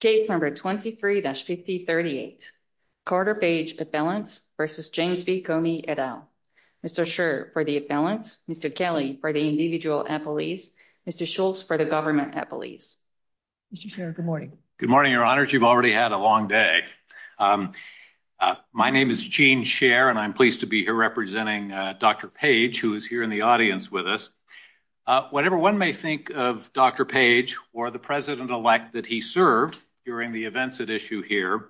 Case number 23-5038. Carter Page appellant versus James B Comey et al. Mr. Scherr for the appellants, Mr. Kelly for the individual appellees, Mr. Schultz for the government appellees. Mr. Scherr, good morning. Good morning, Your Honor. You've already had a long day. My name is Gene Scherr and I'm pleased to be here representing Dr. Page who is here in the audience with us. Whatever one may think of Dr. Page or the president-elect that he served during the events at issue here,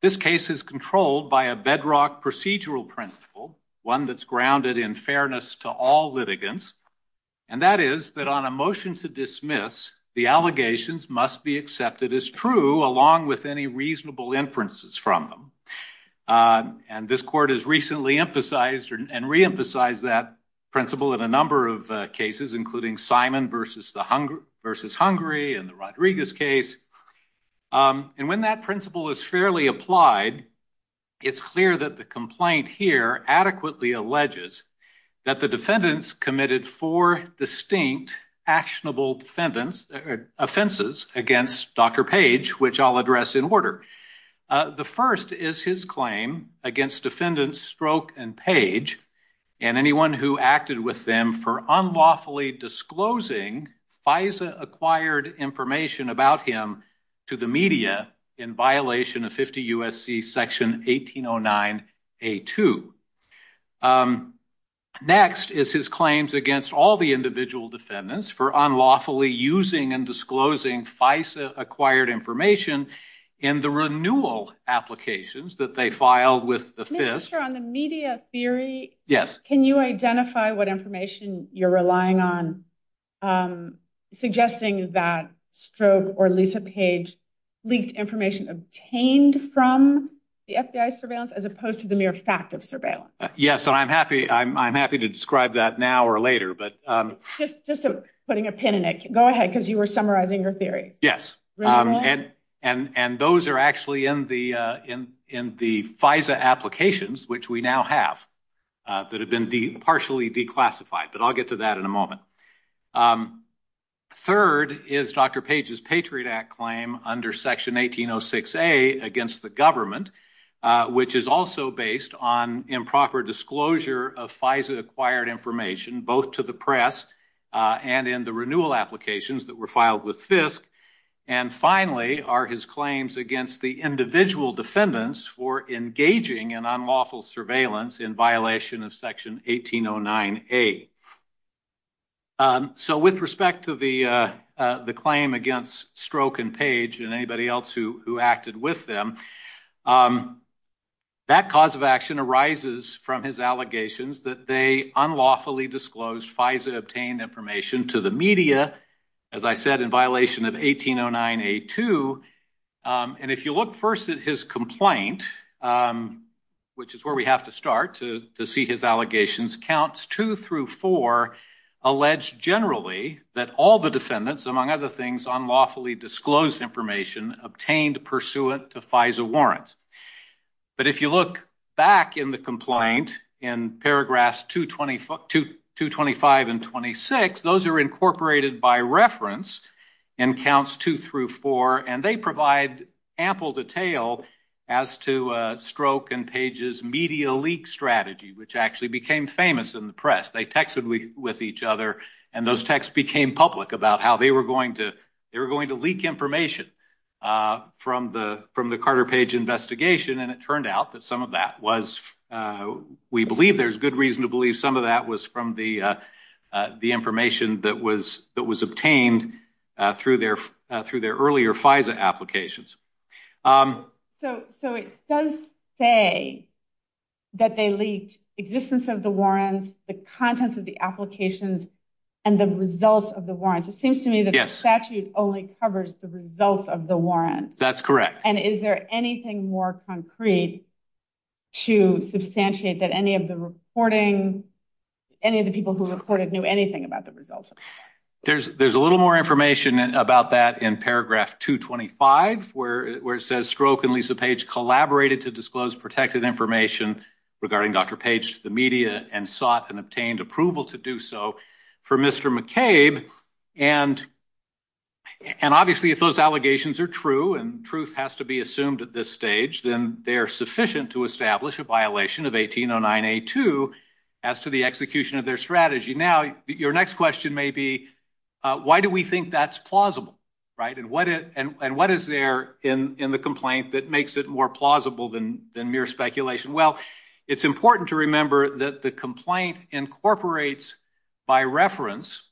this case is controlled by a bedrock procedural principle, one that's grounded in fairness to all litigants, and that is that on a motion to dismiss, the allegations must be accepted as true along with any reasonable inferences from them. And this court has recently emphasized and re-emphasized that principle in a number of cases including Simon versus Hungary and the Rodriguez case. And when that principle is fairly applied, it's clear that the complaint here adequately alleges that the defendants committed four distinct actionable offenses against Dr. Page, which I'll address in order. The first is his claim against defendants Stroke and Page and anyone who acted with them for unlawfully disclosing FISA-acquired information about him to the media in violation of 50 U.S.C. section 1809a2. Next is his claims against all the individual defendants for unlawfully using and disclosing FISA-acquired information in the renewal applications that they filed with the FIS. On the media theory, can you identify what information you're relying on suggesting is that Stroke or Lisa Page leaked information obtained from the FBI surveillance as opposed to the mere fact of surveillance? Yes, I'm happy to describe that now or later. But just putting a pin in it, go ahead because you were summarizing your theory. Yes, and those are actually in the FISA applications which we now have that have been partially declassified, but I'll get to that in a moment. Third is Dr. Page's Patriot Act claim under section 1806a against the government, which is also based on improper disclosure of FISA-acquired information both to the press and in the renewal applications that were filed with FISC. And finally are his claims against the individual defendants for engaging in unlawful surveillance in violation of section 1809a. So with respect to the the claim against Stroke and Page and anybody else who who acted with them, that cause of action arises from his allegations that they unlawfully disclosed FISA-obtained information to the media, as I said in violation of 1809a-2. And if you look first at his complaint, which is where we have to start to see his allegations, counts 2 through 4 allege generally that all the defendants, among other things, unlawfully disclosed information obtained pursuant to FISA warrants. But if you look back in the complaint in paragraphs 225 and 26, those are incorporated by reference in counts 2 through 4, and they provide ample detail as to Stroke and Page's media leak strategy, which actually became famous in the press. They texted with each other and those texts became public about how they were going to they were going to leak information from the Carter Page investigation, and it turned out that some of that was, we believe there's good reason to believe some of that was from the the information that was that was obtained through their through their earlier FISA applications. So it does say that they leaked existence of the warrants, the contents of the applications, and the results of the warrants. It seems to me that the statute only covers the results of the warrants. That's correct. And is there anything more concrete to substantiate that any of the reporting, any of the people who recorded knew anything about the results? There's there's a little more information about that in paragraph 225, where it says Stroke and Lisa Page collaborated to disclose protected information regarding Dr. Page to the media and sought and obtained approval to do so for Mr. McCabe, and and obviously if those allegations are true and truth has to be assumed at this stage, then they are sufficient to establish a violation of 1809A2 as to the execution of their strategy. Now your next question may be why do we think that's plausible, right? And what it and what is there in in the complaint that makes it more plausible than mere speculation? Well it's important to remember that the complaint incorporates by reference,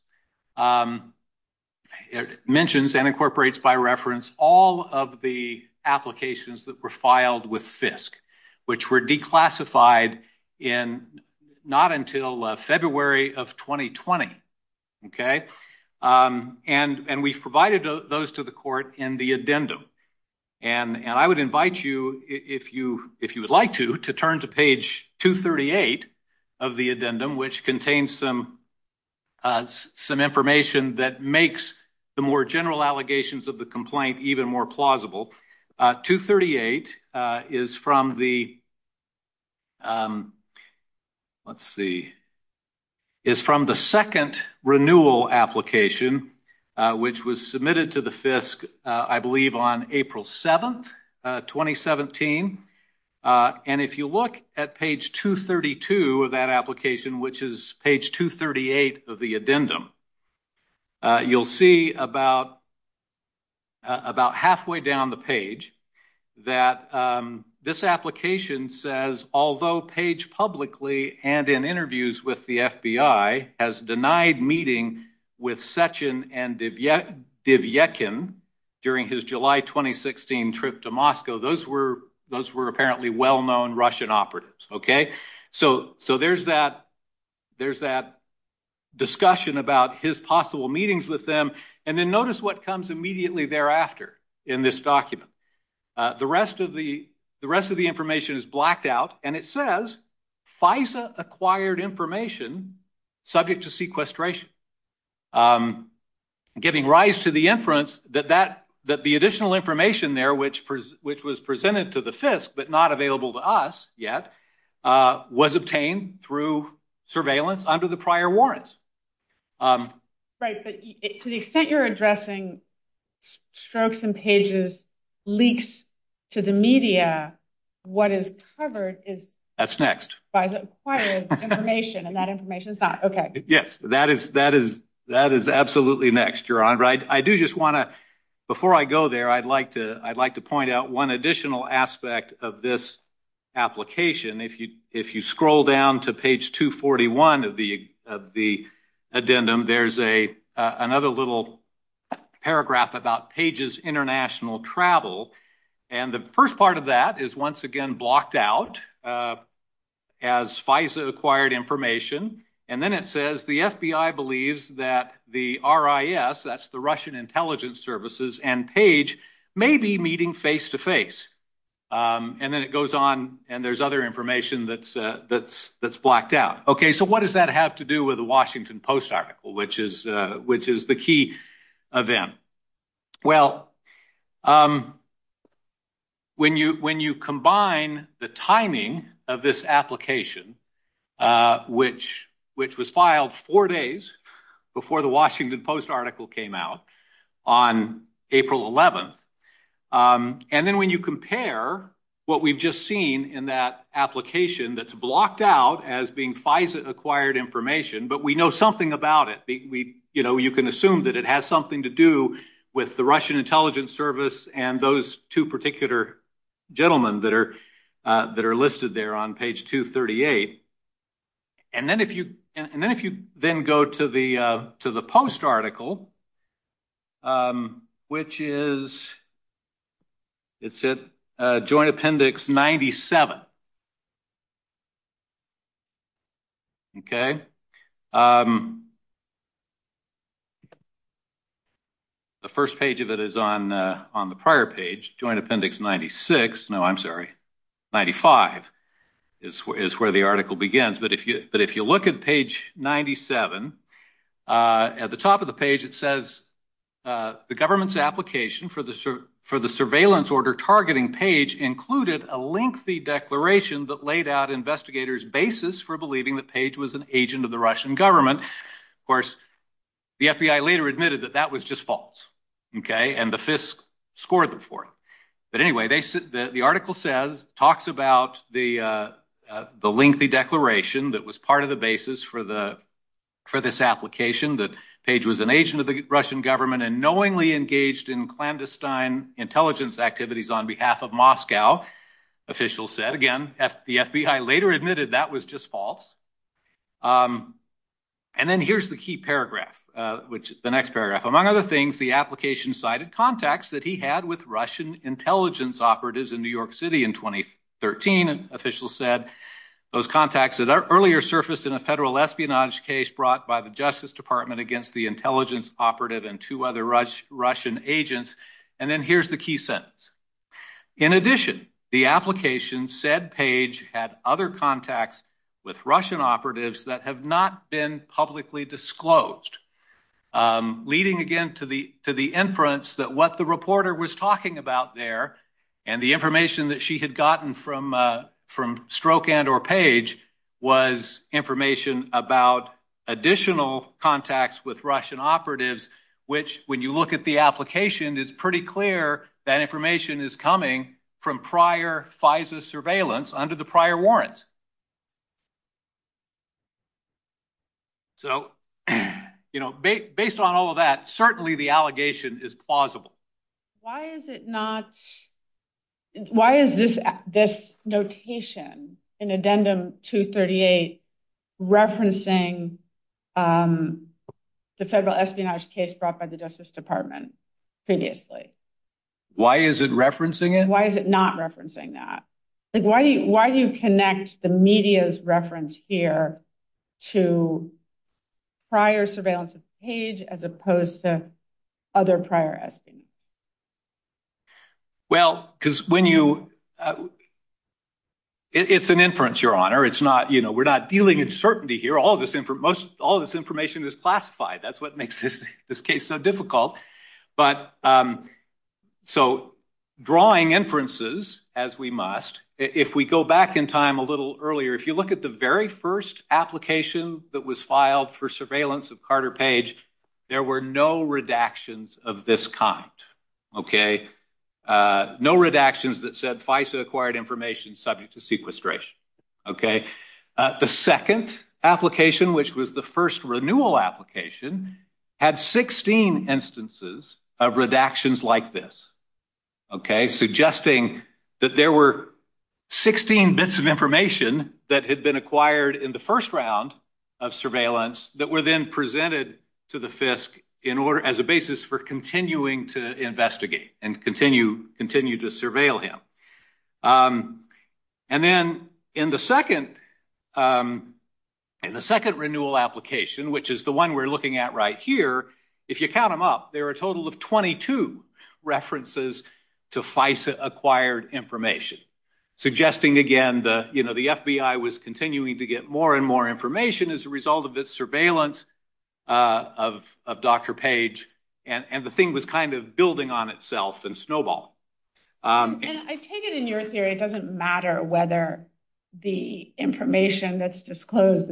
it mentions and incorporates by reference all of the applications that were filed with FISC, which were declassified in not until February of 2020, okay? And and we provided those to the court in the addendum. And and I would invite you, if you if you would like to, to turn to page 238 of the addendum, which contains some some information that makes the more general allegations of the complaint even more plausible. 238 is from the, let's see, is from the second renewal application, which was submitted to the page 232 of that application, which is page 238 of the addendum. You'll see about about halfway down the page that this application says, although Page publicly and in interviews with the FBI has denied meeting with Sechin and Dyvyekin during his July 2016 trip to Moscow, those were those were well-known Russian operatives, okay? So so there's that there's that discussion about his possible meetings with them. And then notice what comes immediately thereafter in this document. The rest of the the rest of the information is blacked out and it says FISA acquired information subject to sequestration, giving rise to the inference that that that the additional information there which was presented to the FISC, but not available to us yet, was obtained through surveillance under the prior warrants. Right, so you think you're addressing strokes and pages, leaks to the media, what is covered is... That's next. ...acquired information and that information is not, okay. Yes, that is that is that is absolutely next, Your Honor. I do just want to, before I go there, I'd like to point out one additional aspect of this application. If you if you scroll down to page 241 of the of the addendum, there's a another little paragraph about Page's international travel. And the first part of that is once again blocked out as FISA acquired information. And then it says the FBI believes that the RIS, that's the Russian intelligence services, and Page may be meeting face-to-face. And then it goes on and there's other information that's that's that's blacked out. Okay, so what does that have to do with the Washington Post article, which is which is the key event? Well, when you when you combine the timing of this application, which which was filed four days before the Washington Post article came out on April 11th, and then when you compare what we've just seen in that application that's blocked out as being FISA acquired information, but we know something about it. We, you know, you can assume that it has something to do with the Russian intelligence service and those two particular gentlemen that are that are listed there on page 238. And then if you and then if you then go to the post article, which is it's at Joint Appendix 97. Okay, the first page of it is on on the prior page, Joint Appendix 96. No, I'm sorry, 95 is where the article begins. But if you but if you look at page 97, at the top of the page it says the government's application for the for the surveillance order targeting page included a lengthy declaration that laid out investigators basis for believing the page was an agent of the Russian government. Of course, the FBI later admitted that that was just false. Okay, and the FISC scored them for it. But the lengthy declaration that was part of the basis for the for this application that page was an agent of the Russian government and knowingly engaged in clandestine intelligence activities on behalf of Moscow, official said again at the FBI later admitted that was just false. And then here's the key paragraph, which is the next paragraph. Among other things, the application cited contacts that he had with Russian intelligence operatives in New York City in 2013 and officials said those contacts that are earlier surfaced in a federal espionage case brought by the Justice Department against the intelligence operative and two other Russian agents. And then here's the key sentence. In addition, the application said page had other contacts with Russian operatives that have not been publicly disclosed. Leading again to the to the inference that what the reporter was talking about there and the information that she had gotten from Stroke and or page was information about additional contacts with Russian operatives, which when you look at the application is pretty clear that information is coming from prior FISA surveillance under the prior warrants. So you know, based on all of that, certainly the allegation is plausible. Why is it not? Why is this this notation in addendum to 38 referencing the federal espionage case brought by the Justice Department previously? Why is it referencing it? Why is it not referencing that? Why do you connect the media's reference here to prior surveillance page as opposed to other prior? Well, because when you, it's an inference, Your Honor. It's not, you know, we're not dealing in certainty here. All of this information is classified. That's what makes this case so difficult. But so drawing inferences as we must, if we go back in time a little earlier, if you look at the very first application that was filed for surveillance of Carter Page, there were no redactions of this kind, okay? No redactions that said FISA acquired information subject to sequestration, okay? The second application, which was the first renewal application, had 16 instances of redactions like this, okay? Suggesting that there were 16 bits of information that had been acquired in the first round of surveillance that were then presented to the FISC as a basis for continuing to investigate and continue to surveil him. And then in the second renewal application, which is the one we're looking at right here, if you count them up, there are a total of 22 references to FISA acquired information. Suggesting again the, you know, the FBI was continuing to get more and more information as a result of this surveillance of Dr. Page, and the thing was kind of building on itself and snowballed. I take it in your theory it doesn't matter whether the information that's disclosed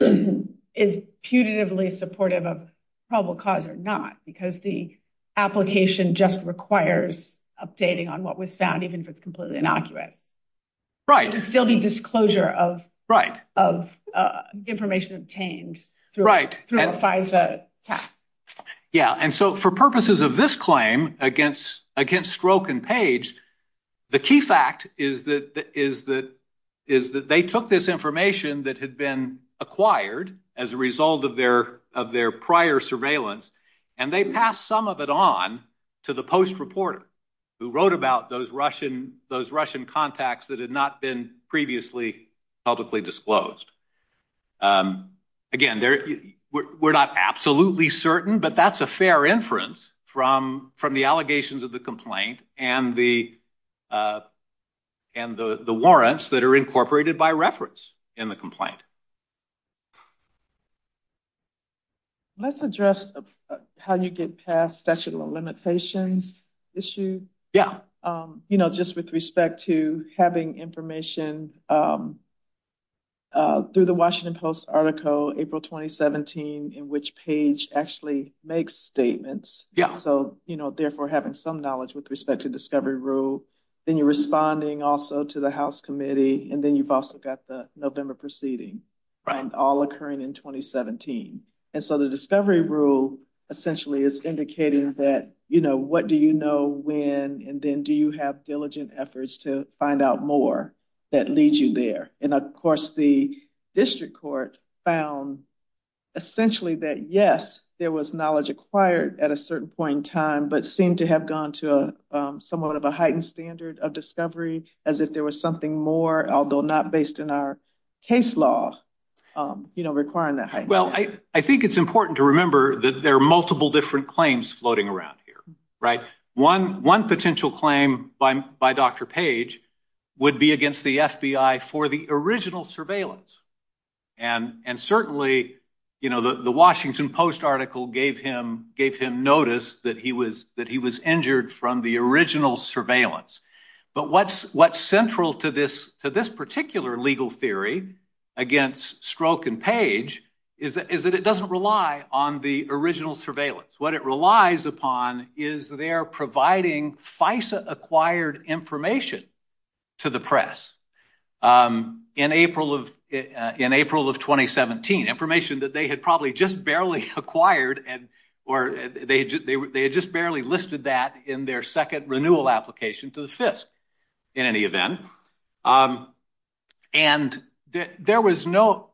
is punitively supportive of probable cause or not, because the application just requires updating on what was found, even if it's completely inaccurate. Right. It's still the disclosure of information obtained through a FISA test. Yeah, and so for purposes of this claim against Stroke and Page, the key fact is that they took this information that had been acquired as a result of their prior surveillance, and they passed some of it on to the post reporter who wrote about those Russian contacts that had not been previously publicly disclosed. Again, we're not absolutely certain, but that's a fair inference from the allegations of the complaint and the warrants that are incorporated by reference in the complaint. Let's address how you get past statute of limitations issues. Yeah. You know, just with respect to having information through the Washington Post article April 2017, in which Page actually makes statements. Yeah. So, you know, therefore having some knowledge with respect to discovery rule, then you're responding also to the House committee, and then you've also got the November proceeding. Right. All occurring in 2017, and so the discovery rule essentially is indicating that, you know, what do you know when, and then do you have diligent efforts to find out more that leads you there. And, of course, the district court found essentially that, yes, there was knowledge acquired at a certain point in time, but seemed to have gone to a somewhat of a heightened standard of discovery, as if there was something more, although not based in our case law, you know, requiring that. Well, I think it's important to remember that there are multiple different claims floating around here, right. One potential claim by Dr. Page would be against the FBI for the original surveillance, and certainly, you know, the Washington Post article gave him notice that he was injured from the original surveillance, but what's central to this particular legal theory against Stroke and Page is that it doesn't rely on the original surveillance. What it relies upon is their providing FISA-acquired information to the press in April of 2017, information that they had probably just barely acquired, and or they had just barely listed that in their second renewal application to the fifth, in any There was no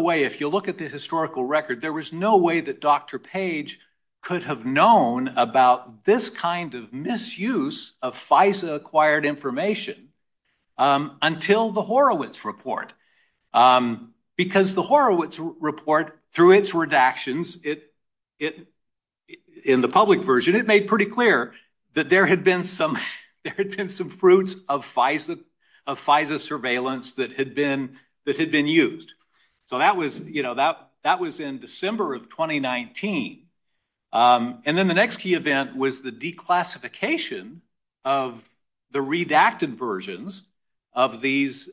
way, if you look at the historical record, there was no way that Dr. Page could have known about this kind of misuse of FISA-acquired information until the Horowitz report, because the Horowitz report, through its redactions, in the public version, it made pretty clear that there had been some fruits of FISA surveillance that had been used. So that was, you know, that was in December of 2019, and then the next key event was the declassification of the redacted versions of these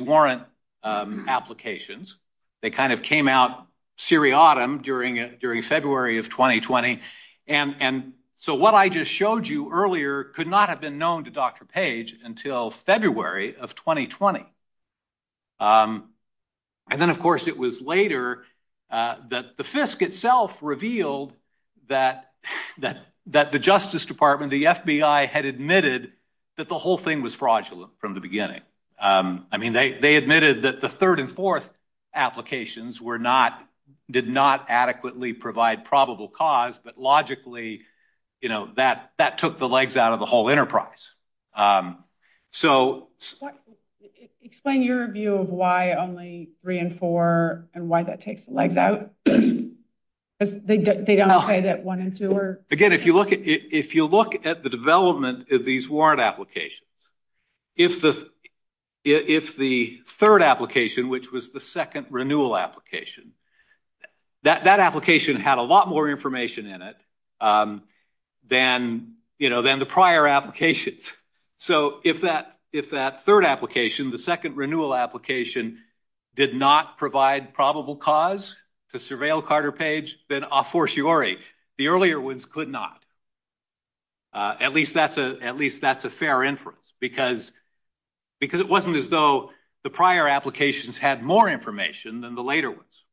warrant applications. They kind of came out seriatim during February of 2020, and so what I just showed you earlier could not have been known to Dr. Page until February of 2020. And then, of course, it was later that the FISC itself revealed that the Justice Department, the FBI, had admitted that the whole thing was fraudulent from the beginning. I mean, they admitted that the third and fourth applications were not, did not adequately provide probable cause, but logically, you know, that took the legs out of the whole enterprise. So... Explain your view of why only three and four, and why that takes the legs out. They don't say that one and two are... Again, if you look at the development of these warrant applications, if the third application, which was the second renewal application, that application had a lot more information in it than, you know, than the prior applications. So, if that third application, the second renewal application, did not provide probable cause to surveil Carter Page, then a fortiori, the earlier ones could not. At least that's a fair inference, because it wasn't as though the prior applications had more information than the later ones,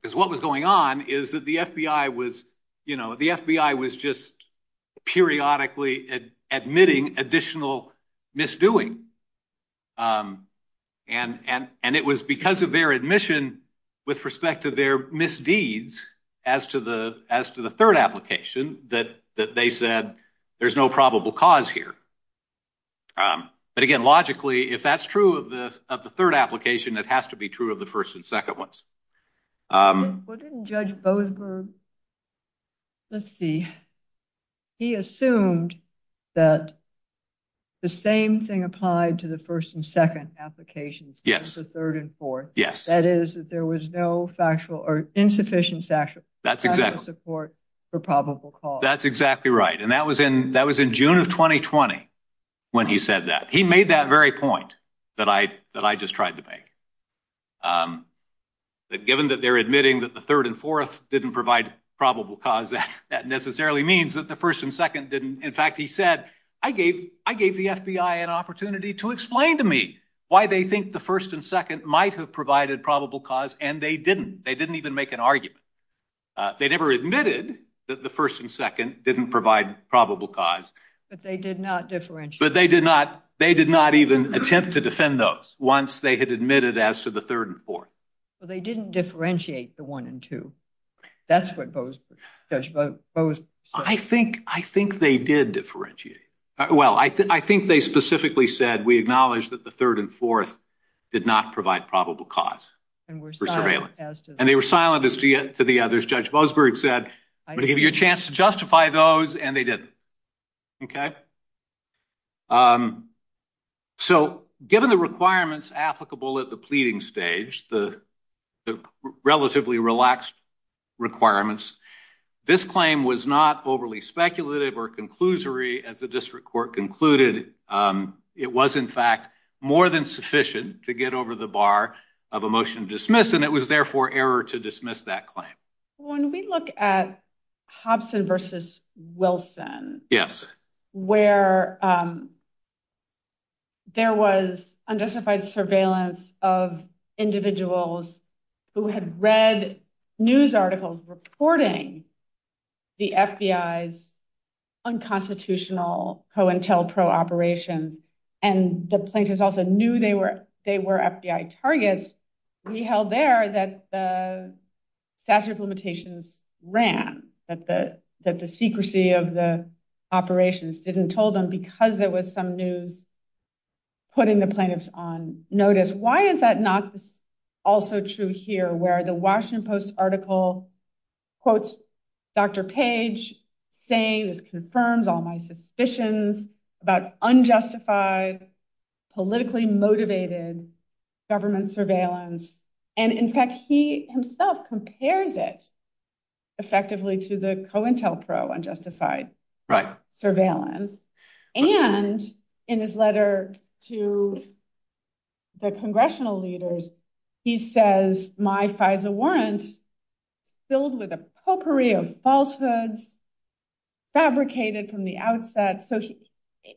because what was going on is that the FBI was, you know, the FBI was just periodically admitting additional misdoing, and it was because of their admission with respect to their misdeeds as to the third application that they said, there's no probable cause here. But again, logically, if that's true of the third application, it has to be true of the first and second ones. Judge Boothberg, let's see, he assumed that the same thing applied to the first and second applications as the third and fourth. Yes. That is, that there was no factual or insufficient factual support for probable cause. That's exactly right, and that was in June of 2020 when he said that. He made that very point, that I just tried to make. Given that they're admitting that the third and fourth didn't provide probable cause, that necessarily means that the first and second didn't. In fact, he said, I gave the FBI an opportunity to explain to me why they think the first and second might have provided probable cause, and they didn't. They didn't even make an argument. They never admitted that the first and second didn't provide probable cause. But they did not even attempt to defend those once they had admitted as to the third and fourth. So they didn't differentiate the one and two. That's what Judge Boothberg said. I think they did differentiate. Well, I think they specifically said, we acknowledge that the third and fourth did not provide probable cause for surveillance. And they were silent as to the others. Judge Boothberg. So given the requirements applicable at the pleading stage, the relatively relaxed requirements, this claim was not overly speculative or conclusory as the district court concluded. It was, in fact, more than sufficient to get over the bar of a motion to dismiss, and it was therefore error to dismiss that claim. When we look at Hobson versus Wilson, where there was undecified surveillance of individuals who had read news articles reporting the FBI's unconstitutional pro-intel, pro-operations, and the prosecutors also knew they were FBI targets, we held there that the statute of limitations ran, that the secrecy of the operations didn't tell them because there was some news putting the plaintiffs on notice. Why is that not also true here, where the Washington Post article quotes Dr. Page saying, it confirms all my suspicions about unjustified, politically motivated government surveillance. And in fact, he himself compares it effectively to the co-intel pro-unjustified surveillance. And in his letter to the congressional leaders, he says my FISA warrants filled with a potpourri of falsehoods, fabricated from the outset.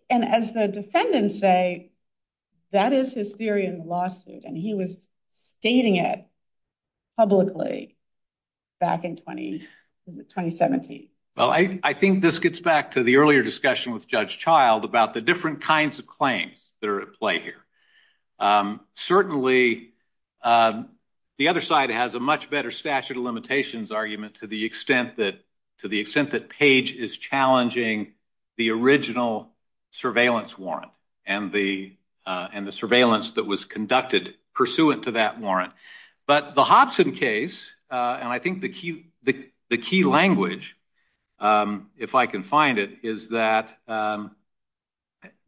And as the defendants say, that is hysteria in the lawsuit, and he was stating it publicly back in 2017. Well, I think this gets back to the earlier discussion with Judge Child about the different kinds of claims that are at play here. Certainly, the other side has a much better statute of limitations argument to the extent that Page is challenging the original surveillance warrant and the surveillance that was conducted pursuant to that warrant. But the Hobson case, and I think the key language, if I can find it, is that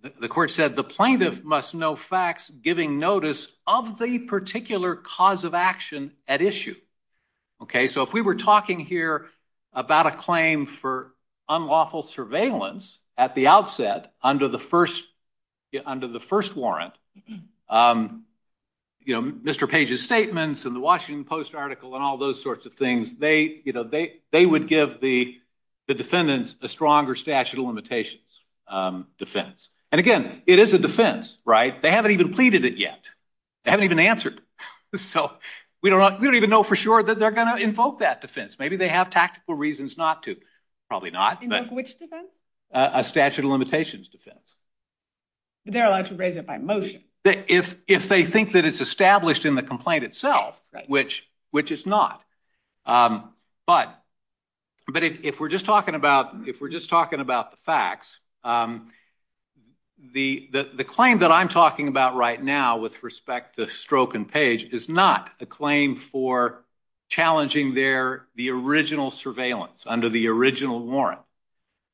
the court said the plaintiff must know facts giving notice of the particular cause of action at issue. Okay, so if we were talking here about a claim for unlawful surveillance at the outset under the first warrant, you know, Mr. Page's statements and the Washington Post article and all those sorts of things, they would give the defendants a stronger statute of limitations defense. And again, it is a defense, right? They haven't even completed it yet. They haven't even answered. So we don't even know for sure that they're going to invoke that defense. Maybe they have tactical reasons not to. Probably not. A statute of limitations defense. If they think that it's established in the complaint itself, which it's not. But if we're just talking about the facts, the claim that I'm talking about right now with respect to Stroke and Page is not a claim for challenging the original surveillance under the original warrant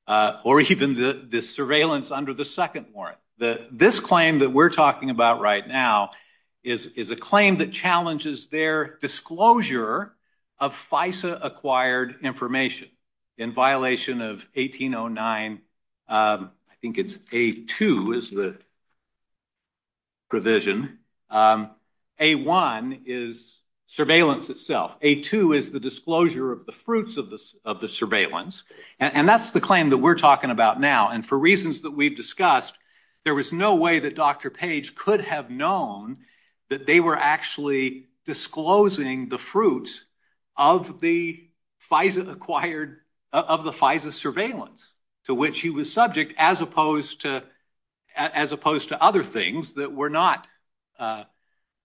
or even the surveillance under the second warrant. This claim that we're talking about right now is a claim that challenges their disclosure of FISA provision. A1 is surveillance itself. A2 is the disclosure of the fruits of the surveillance. And that's the claim that we're talking about now. And for reasons that we've discussed, there was no way that Dr. Page could have known that they were actually disclosing the fruits of the FISA acquired, of the FISA surveillance to which he was subject as opposed to other things that were not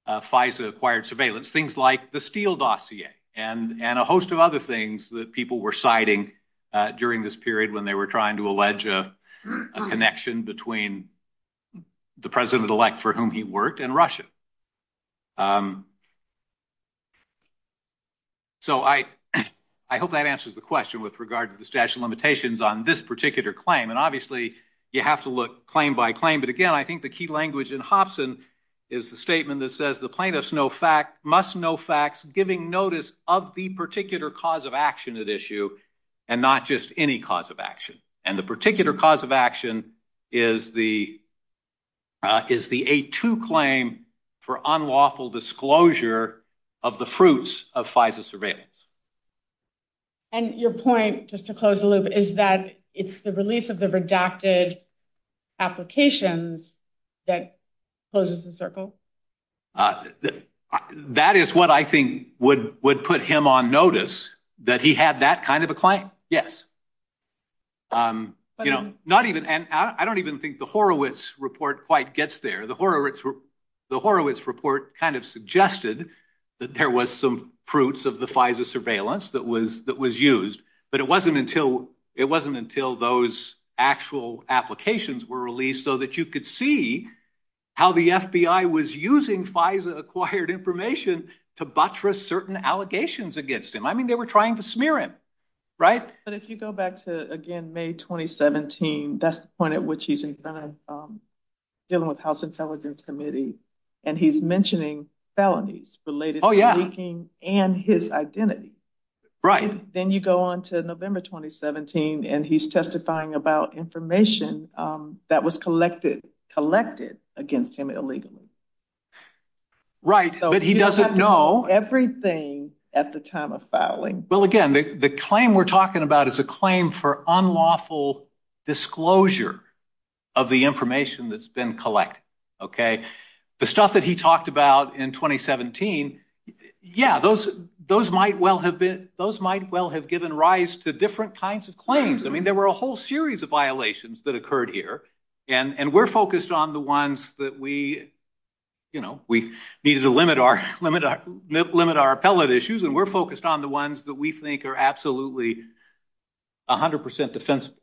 FISA acquired surveillance. Things like the Steele dossier and a host of other things that people were citing during this period when they were trying to allege a connection between the president-elect for whom he worked and Russia. So I hope that answers the question with regard to the statute of limitations on this particular claim. And obviously you have to look claim by claim. But again, I think the key language in Hobson is the statement that says the plaintiffs must know facts giving notice of the particular cause of action at issue and not just any cause of action. And the particular cause of action is the A2 claim for unlawful disclosure of the fruits of FISA surveillance. And your point, just to close the loop, is that it's the release of the redacted applications that closes the circle? That is what I think would put him on notice, that he had that kind of a claim, yes. I don't even think the Horowitz report quite gets there. The Horowitz report kind of suggested that there was some fruits of the FISA surveillance that was used, but it wasn't until those actual applications were released so that you could see how the FBI was using FISA acquired information to buttress certain allegations against him. I mean, they were trying to smear him, right? But if you go back to, again, May 2017, that's the point at which he's dealing with the House Intelligence Committee, and he's mentioning felonies related to leaking and his identity. Then you go on to November 2017, and he's testifying about information that was collected against him illegally. Right, but he doesn't know everything at the time of filing. Well, again, the claim we're talking about is a claim for unlawful disclosure of the information that's been collected, okay? The stuff that he talked about in 2017, yeah, those might well have given rise to different kinds of claims. I mean, there were a whole series of violations that occurred here, and we're focused on the ones that we needed to limit our appellate issues, and we're focused on the ones that we think are absolutely 100% defensible.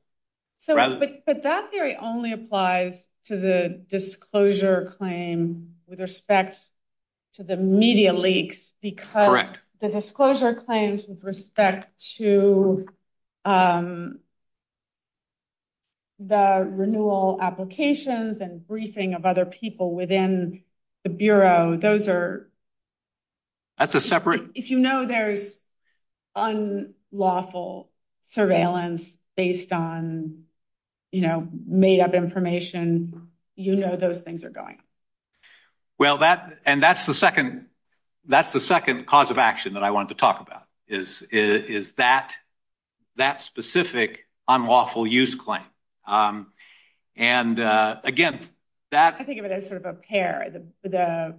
But that theory only applies to the disclosure claim with respect to the media leaks, because the disclosure claims with respect to the renewal applications and briefing of other people within the Bureau, those are... That's a separate... If you know there's unlawful surveillance based on, you know, made-up information, you know those things are going. Well, and that's the second cause of action that I wanted to talk about, is that specific unlawful use claim. And again, that... I think of it as sort of a pair. The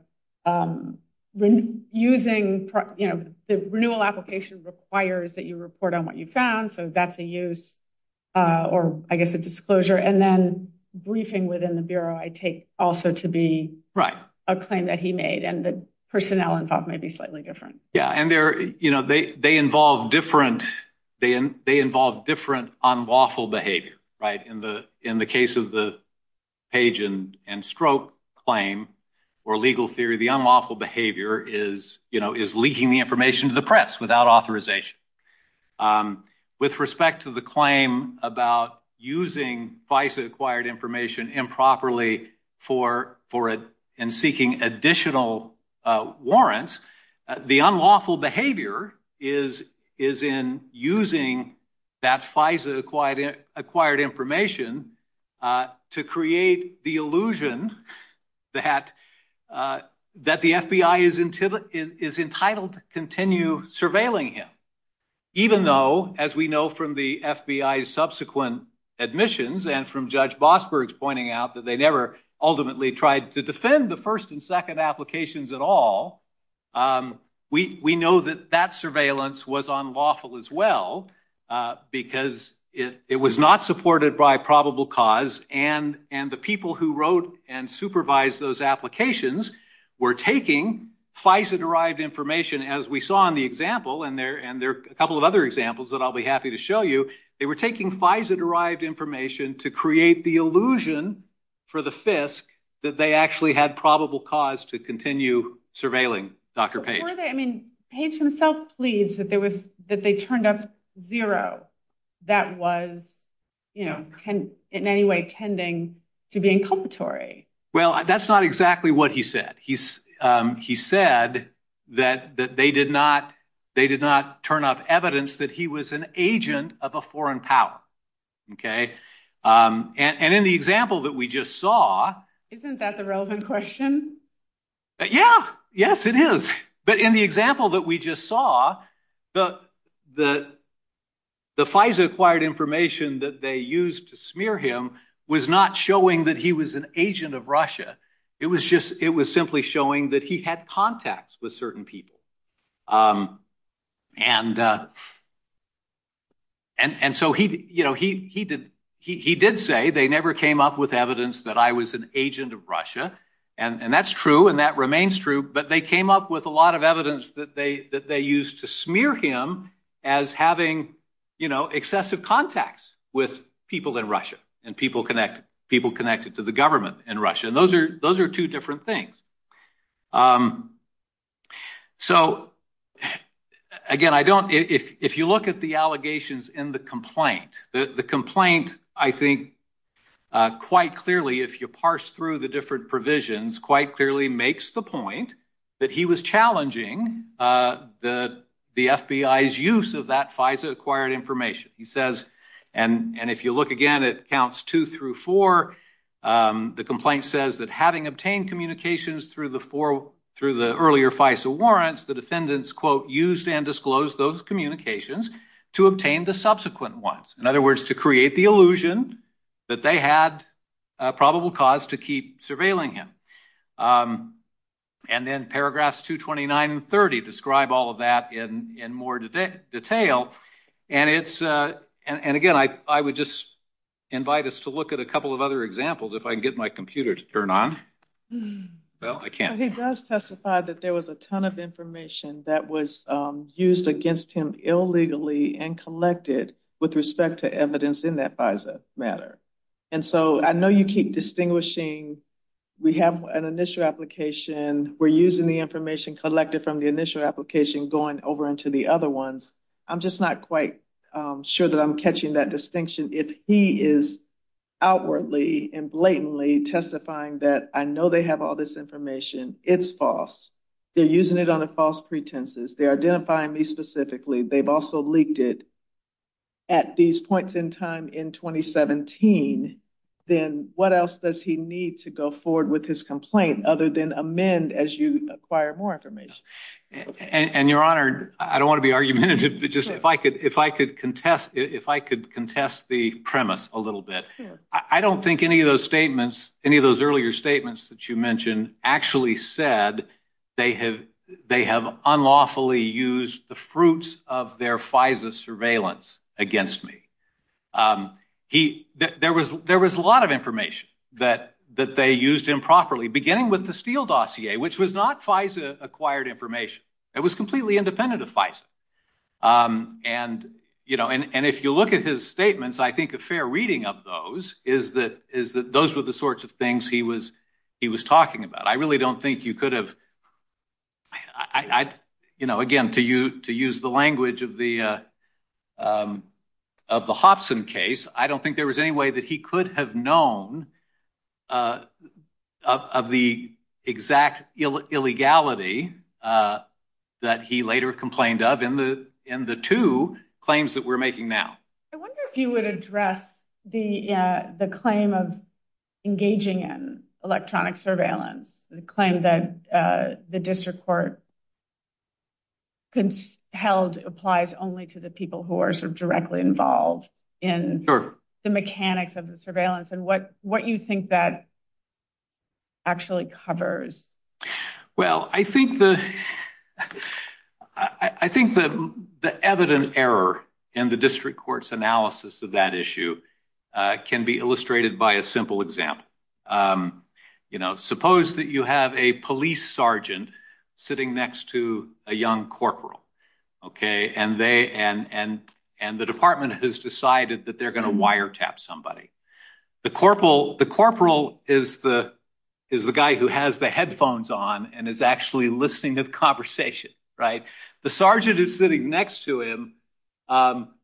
renewal application requires that you report on what you found, so that's a use, or I guess a disclosure, and then briefing within the Bureau I take also to be a claim that he made, and the personnel involved may be slightly different. Yeah, and they're, you know, they involve different unlawful behavior, right? In the case of the Page and Stroke claim, or legal theory, the unlawful behavior is, you know, is leaking the information to the press without authorization. With respect to the claim about using FISA-acquired information improperly for it and seeking additional warrants, the unlawful behavior is in using that FISA-acquired information to create the illusion that the FBI is entitled to continue surveilling him, even though, as we know from the FBI's subsequent admissions and from Judge Bosberg's pointing out, that they never ultimately tried to defend the first and second applications at all. We know that that surveillance was unlawful as well, because it was not supported by probable cause, and the people who wrote and supervised those applications were taking FISA-derived information, as we saw in the example, and there are a couple of other examples that I'll be happy to show you. They were taking FISA-derived information to create the illusion for the FISC that they actually had probable cause to continue surveilling Dr. Page. I mean, Page himself pleads that they turned up zero. That was, you know, in any way tending to be inculpatory. Well, that's not exactly what he said. He said that they did not turn up evidence that he was an agent of a foreign power, okay, and in the example that we just saw... Isn't that the relevant question? Yeah, yes, it is, but in the example that we just saw, the FISA-acquired information that they used to smear him was not showing that he was an agent of Russia. It was just, it had contacts with certain people, and so he, you know, he did say they never came up with evidence that I was an agent of Russia, and that's true, and that remains true, but they came up with a lot of evidence that they used to smear him as having, you know, excessive contacts with people in Russia and people connected to the government in Russia, and those are two different things. So, again, I don't... If you look at the allegations in the complaint, the complaint, I think, quite clearly, if you parse through the different provisions, quite clearly makes the point that he was challenging the FBI's use of that FISA-acquired information. He says, and if you look again, it counts two through four. The complaint says that, having obtained communications through the earlier FISA warrants, the defendants, quote, used and disclosed those communications to obtain the subsequent ones. In other words, to create the illusion that they had probable cause to keep surveilling him, and then paragraphs 229 and 230 describe all of that in more detail, and it's, and again, I would just invite us to look at a couple of other examples, if I can get my computer to turn on. Well, I can't. He does testify that there was a ton of information that was used against him illegally and collected with respect to evidence in that FISA matter, and so I know you keep distinguishing, we have an initial application, we're using the information collected from the initial application going over into the other ones. I'm just not quite sure that I'm catching that distinction. If he is outwardly and blatantly testifying that, I know they have all this information, it's false, they're using it on a false pretense, they're identifying me specifically, they've also leaked it at these points in time in 2017, then what else does he need to go forward with his complaint other than amend as you acquire more information? And your honor, I don't want to be argumentative, but just if I could contest the premise a little bit. I don't think any of those statements, any of those earlier statements that you mentioned, actually said they have unlawfully used the fruits of their FISA surveillance against me. There was a lot of information that they used improperly, beginning with the Steele dossier, which was not FISA-acquired information. It was completely independent of FISA. And if you look at his statements, I think a fair reading of those is that those were the sorts of things he was talking about. I really don't think you could have, again, to use the language of the Hobson case, I don't think there was any way that he could have known of the exact illegality that he later complained of in the two claims that we're making now. I wonder if you would address the claim of engaging in electronic surveillance, the claim that the district court held applies only to the people who are so directly involved in the mechanics of the surveillance, and what you think that actually covers. Well, I think the evident error in the district court's analysis of that issue can be illustrated by a simple example. Suppose that you have a police sergeant sitting next to a young corporal, and the department has decided that they're going to tap somebody. The corporal is the guy who has the headphones on and is actually listening to the conversation. The sergeant is sitting next to him,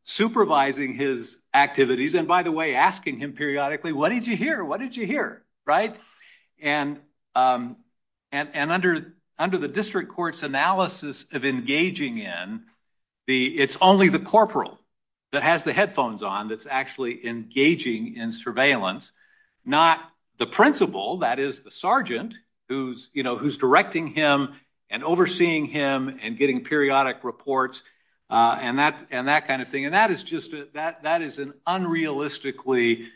supervising his activities, and by the way, asking him periodically, what did you hear? What did you hear? And under the district court's analysis of engaging in, it's only the corporal that has the headphones on that's actually engaging in surveillance, not the principal, that is the sergeant, who's directing him and overseeing him and getting periodic reports, and that kind of thing. And that is just, that is an unrealistically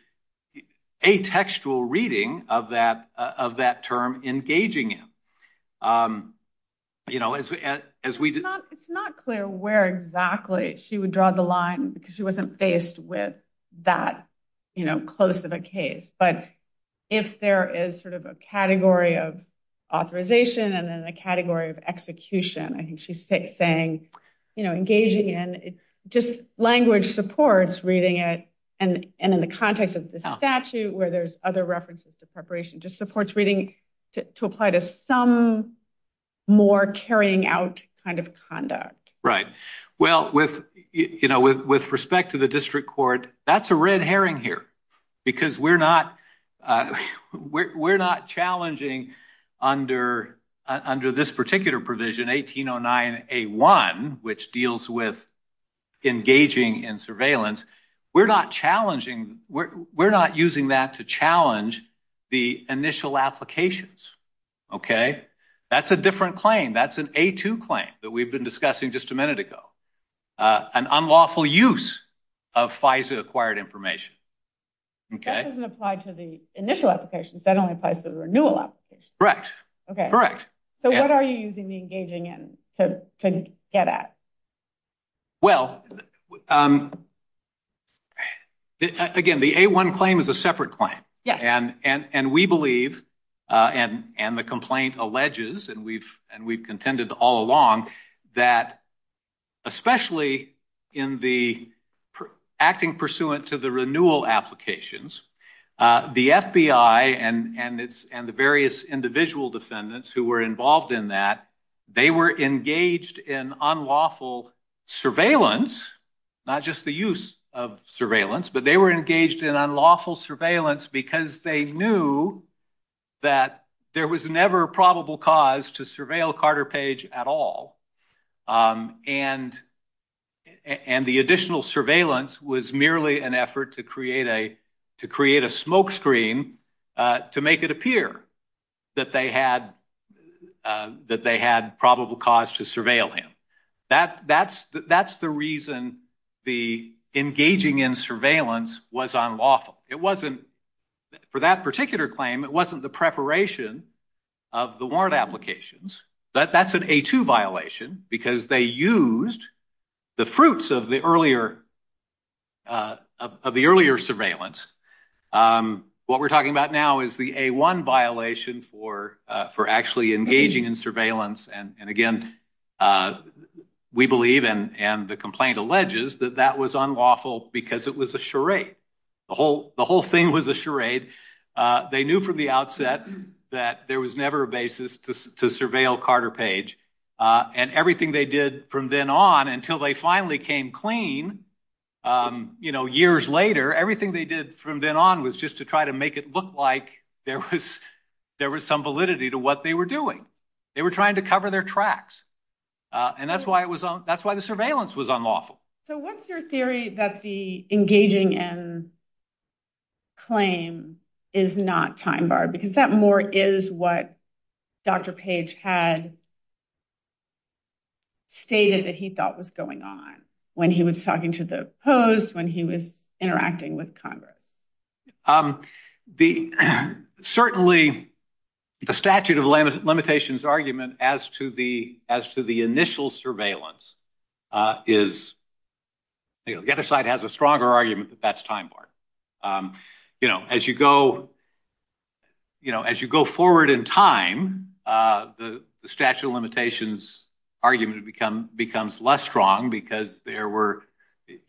atextual reading of that term, engaging him. It's not clear where exactly she would draw the line because she wasn't faced with that close of a case, but if there is sort of a category of authorization and then a category of execution, I think she's saying engaging in, just language supports reading it, and in the context of the statute where there's other references to preparation, just supports reading to apply to some more carrying out kind of conduct. Right. Well, with respect to the district court, that's a red herring here because we're not challenging under this particular provision, 1809A1, which deals with engaging in surveillance. We're not challenging, we're not using that to challenge the initial applications. Okay, that's a different claim, that's an A2 claim that we've been discussing just a minute ago, an unlawful use of FISA acquired information. Okay. That doesn't apply to the initial applications, that only applies to the renewal applications. Correct. Okay. Correct. So what are you using the engaging in to get at? Well, again, the A1 claim is a separate claim, and we believe, and the complaint alleges, and we've contended all along, that especially in the acting pursuant to the renewal applications, the FBI and the various individual defendants who were involved in that, they were engaged in unlawful surveillance, not just the use of surveillance, but they were engaged in unlawful surveillance because they knew that there was never a probable cause to surveil Carter Page at all, and the additional surveillance was merely an effort to create a smokescreen to make it appear that they had probable cause to surveil him. That's the reason the engaging in surveillance was unlawful. It wasn't, for that particular claim, it wasn't the preparation of the warrant applications. That's an A2 violation because they used the fruits of the earlier surveillance. What we're talking about now is the A1 violation for actually engaging in surveillance, and again, we believe, and the complaint alleges, that that was unlawful because it was a charade. The whole thing was a charade. They knew from the outset that there was never a basis to surveil Carter Page, and everything they did from then on until they finally came clean, you know, years later, everything they did from then on was just to try to make it look like there was some validity to what they were doing. They were trying to cover their tracks, and that's why the surveillance was unlawful. So what's your theory that the engaging in claim is not time barred? Because that more is what Dr. Page had stated that he thought was going on when he was talking to the Post, when he was interacting with Congress. Certainly, the statute of limitations argument as to the initial surveillance is, the other side has a stronger argument that that's time barred. You know, as you go, you know, as you go forward in time, the statute of limitations argument becomes less strong because there were,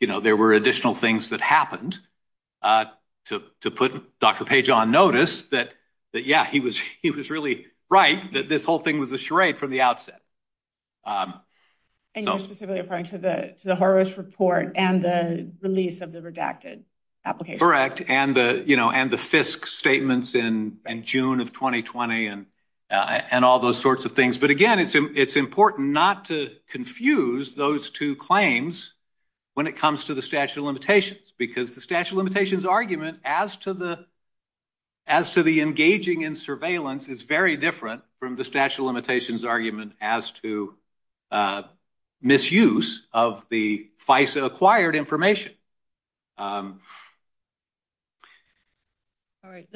you know, there were additional things that happened to put Dr. Page on notice that, yeah, he was really right that this whole thing was a charade from the outset. And you're specifically referring to the Horowitz report and the release of the redacted application? Correct, and the FISC statements in June of 2020 and all those sorts of things. But again, it's important not to confuse those two claims when it comes to the statute of limitations, because the statute of limitations argument as to the engaging in surveillance is very different from the statute of limitations argument as to misuse of the FISA-acquired information. All right,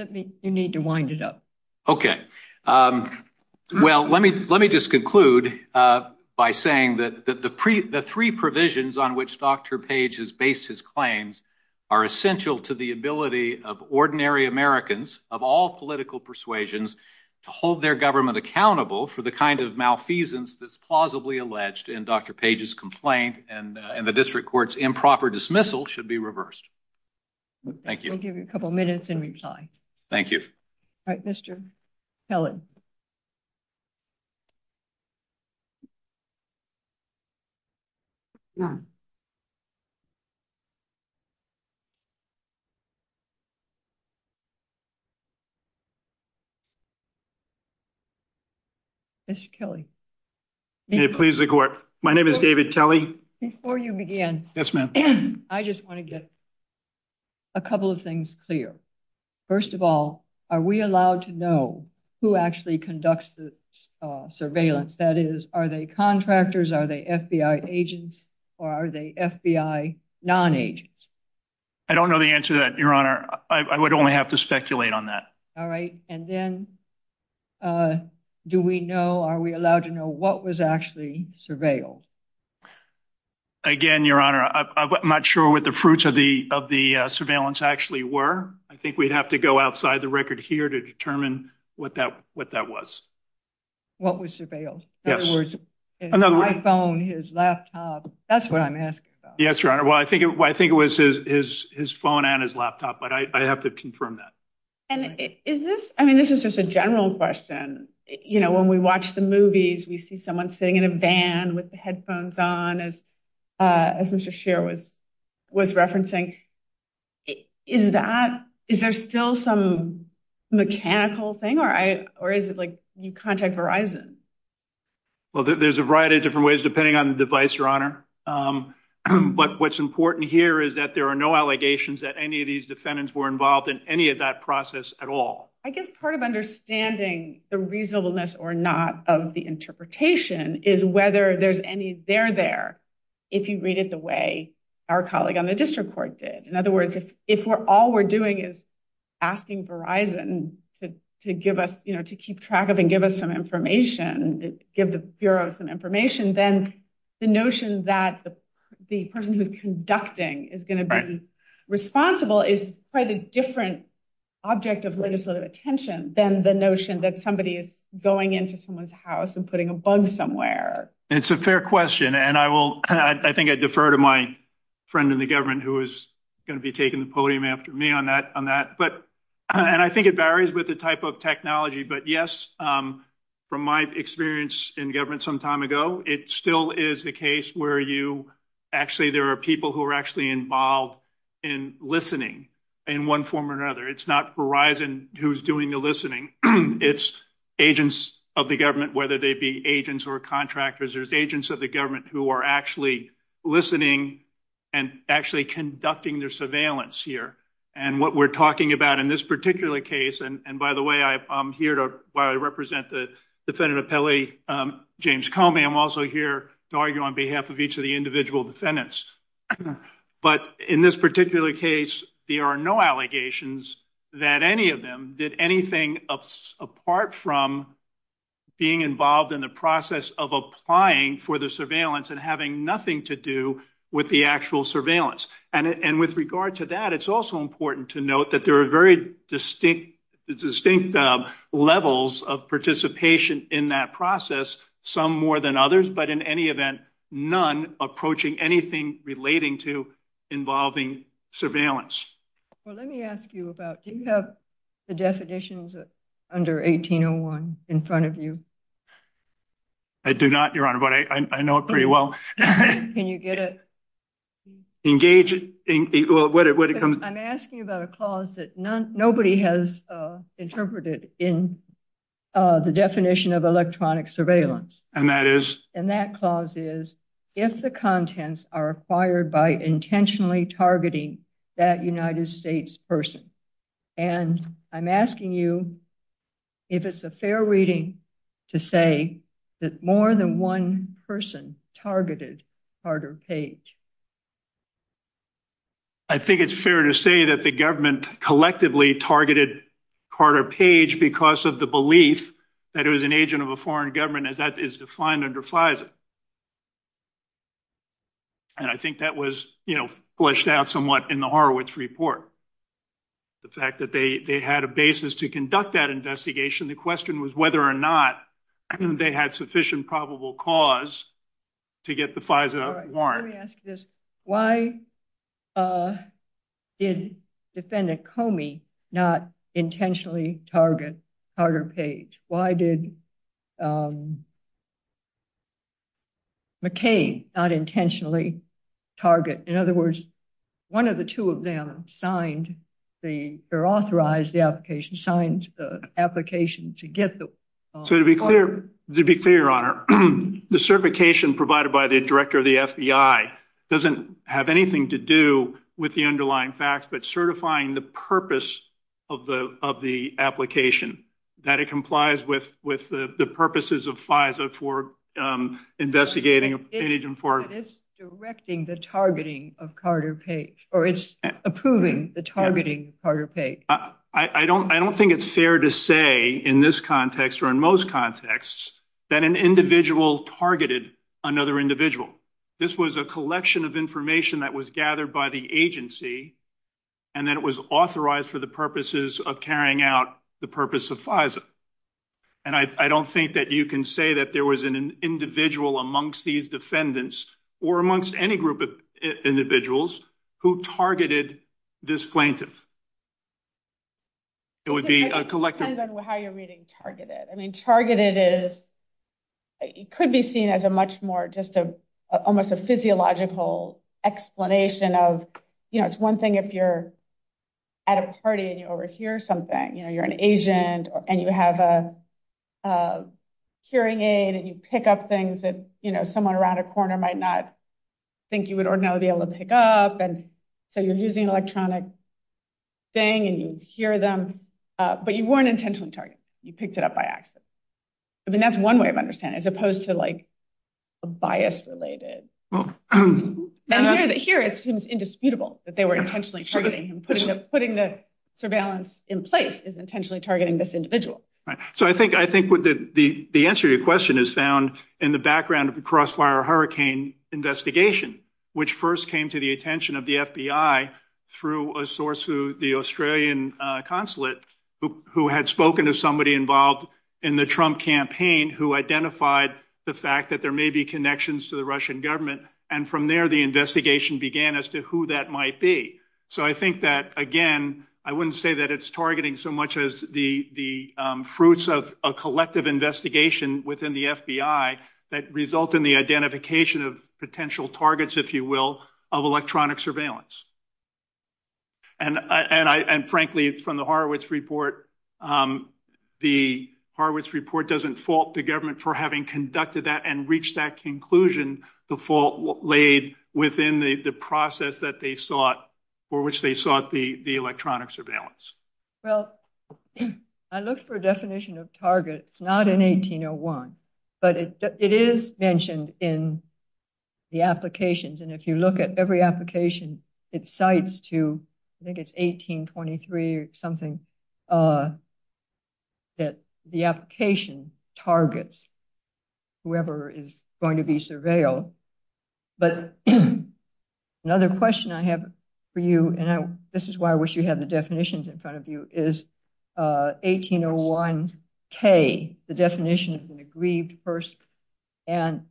you need to wind it up. Okay, well, let me just conclude by saying that the three provisions on which Dr. Page has based his claims are essential to the ability of ordinary Americans of all political persuasions to hold their government accountable for the kind of malfeasance that's plausibly alleged in Dr. Page's complaint and the district court's proper dismissal should be reversed. Thank you. I'll give you a couple minutes and reply. Thank you. All right, Mr. Kelley. Mr. Kelley? Please record. My name is David Kelley. Before you begin, I just want to get a couple of things clear. First of all, are we allowed to know who actually conducts the surveillance? That is, are they contractors, are they FBI agents, or are they FBI non-agents? I don't know the answer to that, Your Honor. I would only have to speculate on that. All right, and then do we know, are we allowed to know what was actually surveilled? Again, Your Honor, I'm not sure what the fruits of the surveillance actually were. I think we'd have to go outside the record here to determine what that was. What was surveilled? Yes. My phone, his laptop, that's what I'm asking about. Yes, Your Honor. Well, I think it was his phone and his laptop, but I have to confirm that. And is this, I mean, this is just a general question. You know, when we watch the movies, we see someone sitting in a van with the headphones on, as Mr. Sherwood was referencing. Is that, is there still some mechanical thing, or is it like you contact Verizon? Well, there's a variety of different ways, depending on the device, Your Honor. But what's important here is that there are no allegations that any of these defendants were involved in any of that process at all. I guess part of understanding the reasonableness or not of the interpretation is whether there's any there there, if you read it the way our colleague on the district court did. In other words, if we're all we're doing is asking Verizon to give us, you know, to keep track of and give us some information, give the Bureau some information, then the notion that the person who's conducting is going to be responsible is quite a different object of legislative attention than the notion that somebody is going into someone's house and putting a bug somewhere. It's a fair question, and I will, I think I defer to my friend in the government who is going to be taking the podium after me on that, on that. But, and I think it varies with the type of technology, but yes, from my experience in government some time ago, it still is the case where you actually, there are people who are actually involved in listening in one form or another. It's not Verizon who's doing the listening, it's agents of the government, whether they be agents or contractors, there's agents of the government who are actually listening and actually conducting their surveillance here. And what we're talking about in this particular case, and by the way, I'm here to represent the Defendant Appellee James Comey, I'm also here to argue on behalf of each of the individual defendants, but in this particular case there are no allegations that any of them did anything apart from being involved in the process of applying for the surveillance and having nothing to do with the actual surveillance. And with regard to that, it's also important to note that there are very distinct levels of participation in that process, some more than others, but in any event, none approaching anything relating to involving surveillance. Well, let me ask you about, do you have the definitions under 1801 in front of you? I do not, Your Honor, but I know it pretty well. Can you get it? Engage it, well, where did it come from? I'm asking about a clause that nobody has interpreted in the definition of electronic surveillance. And that is? And that clause is, if the contents are fired by intentionally targeting that United States person. And I'm asking you if it's a fair reading to say that more than one person targeted Carter Page. I think it's fair to say that the government collectively targeted Carter Page because of the belief that it was an agent of a foreign government, as that is defined under FISA, and I think that was, you know, fleshed out somewhat in the Horowitz report. The fact that they had a basis to conduct that investigation, the question was whether or not they had sufficient probable cause to get the FISA warrant. Let me ask this, why did defendant Comey not intentionally target Carter Page? Why did McCain not intentionally target, in other words, one of the two of them signed the, or authorized the application, signed the application to get the warrant? So to be clear, to be clear, Your Honor, the certification provided by the director of the FBI doesn't have anything to do with the underlying facts, but certifying the purpose of the application, that it complies with the purposes of FISA for investigating an agent for... It's directing the targeting of Carter Page, or it's approving the targeting of Carter Page. I don't think it's fair to say in this context, or in most contexts, that an individual targeted another individual. This was a collection of information that was gathered by the agency, and then it was authorized for the purposes of carrying out the purpose of FISA, and I don't think that you can say that there was an individual amongst these defendants, or amongst any group of individuals, who targeted this plaintiff. It would be a collective... It depends on how you're reading targeted. I mean, targeted is, it could be seen as a much more, just a, almost a physiological explanation of, you know, it's one thing if you're at a party and you overhear something, you know, you're an agent, and you have a hearing aid, and you pick up things that, you know, someone around a corner might not think you would ordinarily be able to pick up, and so you're using electronic thing, and you hear them, but you weren't intentionally targeted. You picked it up by accident. I mean, that's one way of understanding, as opposed to, like, a bias-related... Here, it seems indisputable that they were intentionally targeting him. Putting the surveillance in place is intentionally targeting this individual. So, I think, I think the answer to your question is found in the background of the Crossfire Hurricane investigation, which first came to the attention of the FBI through a source who, the Australian consulate, who had spoken of somebody involved in the Trump campaign, who identified the fact that there may be connections to the Russian government, and from there, the investigation began as to who that might be. So, I think that, again, I wouldn't say that it's targeting so much as the fruits of a collective investigation within the FBI that result in the identification of potential targets, if you will, of electronic surveillance. And, frankly, from the Horowitz report, the Horowitz report doesn't fault the government for having conducted that and that conclusion, the fault laid within the process that they sought, or which they sought, the electronic surveillance. Well, I looked for a definition of targets, not in 1801, but it is mentioned in the applications, and if you look at every application, it cites to, I think it's 1823 or something, that the application targets whoever is going to be surveilled. But, another question I have for you, and this is why I wish you had the definitions in front of you, is 1801-K, the definition of an aggrieved person, and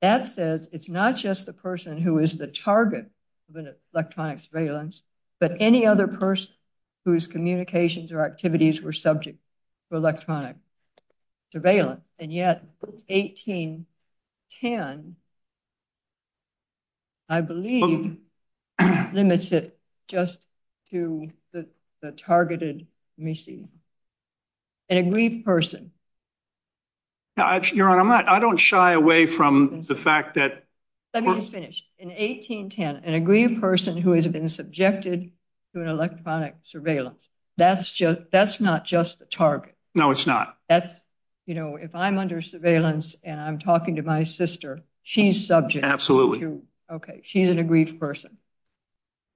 that says it's not just the person who is the target of an electronic surveillance, but any other person whose communications or activities were subject to electronic surveillance. And, yet, 1810, I believe, limits it just to the targeted missing. An aggrieved person. Your Honor, I don't shy away from the fact that... Let me finish. In 1810, an aggrieved person who has been subjected to an electronic surveillance, that's not just the target. No, it's not. That's, you know, if I'm under surveillance, and I'm talking to my sister, she's subject. Absolutely. Okay, she's an aggrieved person.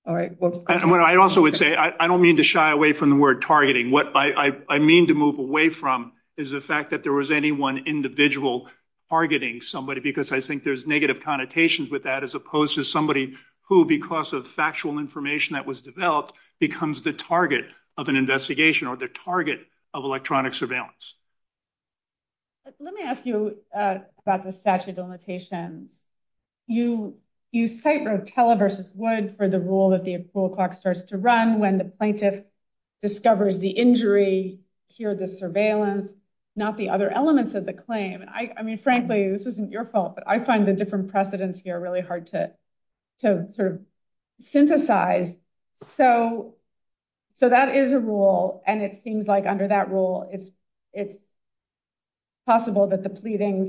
All right. I also would say, I don't mean to shy away from the word targeting. What I mean to move away from is the fact that there was any one individual targeting somebody, because I think there's negative connotations with that, as opposed to somebody who, because of factual information that was developed, becomes the target of an investigation, or the target of electronic surveillance. Let me ask you about the statute of limitations. You cite Rotella v. Wood for the rule that the approval clock starts to run when the plaintiff discovers the injury, hears the surveillance, not the other elements of the claim. I mean, frankly, this isn't your fault, but I find the different precedents here really hard to sort of synthesize. So that is a rule, and it seems like under that rule, it's possible that the pleading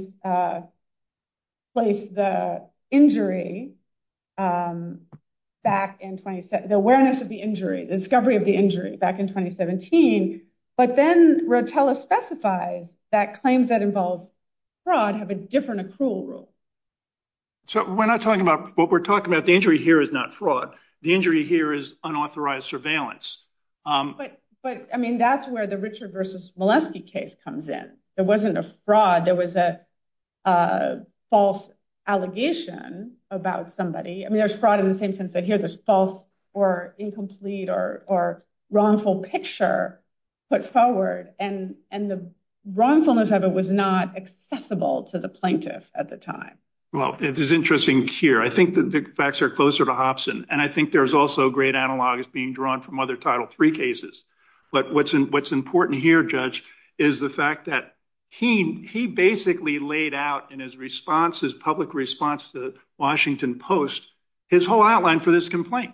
placed the injury back in 2017, the awareness of the injury, the discovery of the injury back in 2017, but then Rotella specifies that claims that involve fraud have a different approval rule. So we're not talking about, what we're talking about, the injury here is not fraud. The injury here is unauthorized surveillance. But, I mean, that's where the Richard v. Molesky case comes in. There wasn't a fraud. There was a false allegation about somebody. I mean, there's fraud in the same sense that here there's false or incomplete or wrongful picture put forward, and the wrongfulness of it was not accessible to the plaintiff at the time. Well, it is interesting here. I think the facts are closer to Hobson, and I think there's also great analogs being drawn from other Title III cases, but what's important here, Judge, is the fact that he basically laid out in his response, his public response to the Washington Post, his whole outline for this complaint.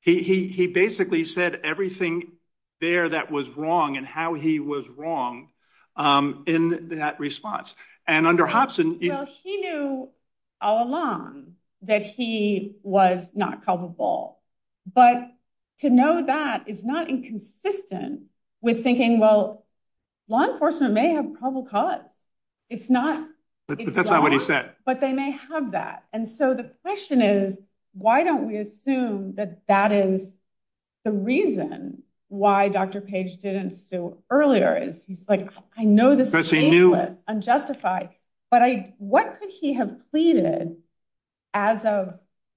He basically said everything there that was wrong and how he was wrong in that response, and under Hobson... Well, he knew all along that he was not culpable, but to know that is not inconsistent with thinking, well, law enforcement may have a probable cause. It's not. But that's not what he said. But they may have that, and so the question is, why don't we assume that that is the reason why Dr. Page didn't sue earlier? I know this is shameless, unjustified, but what could he have pleaded as of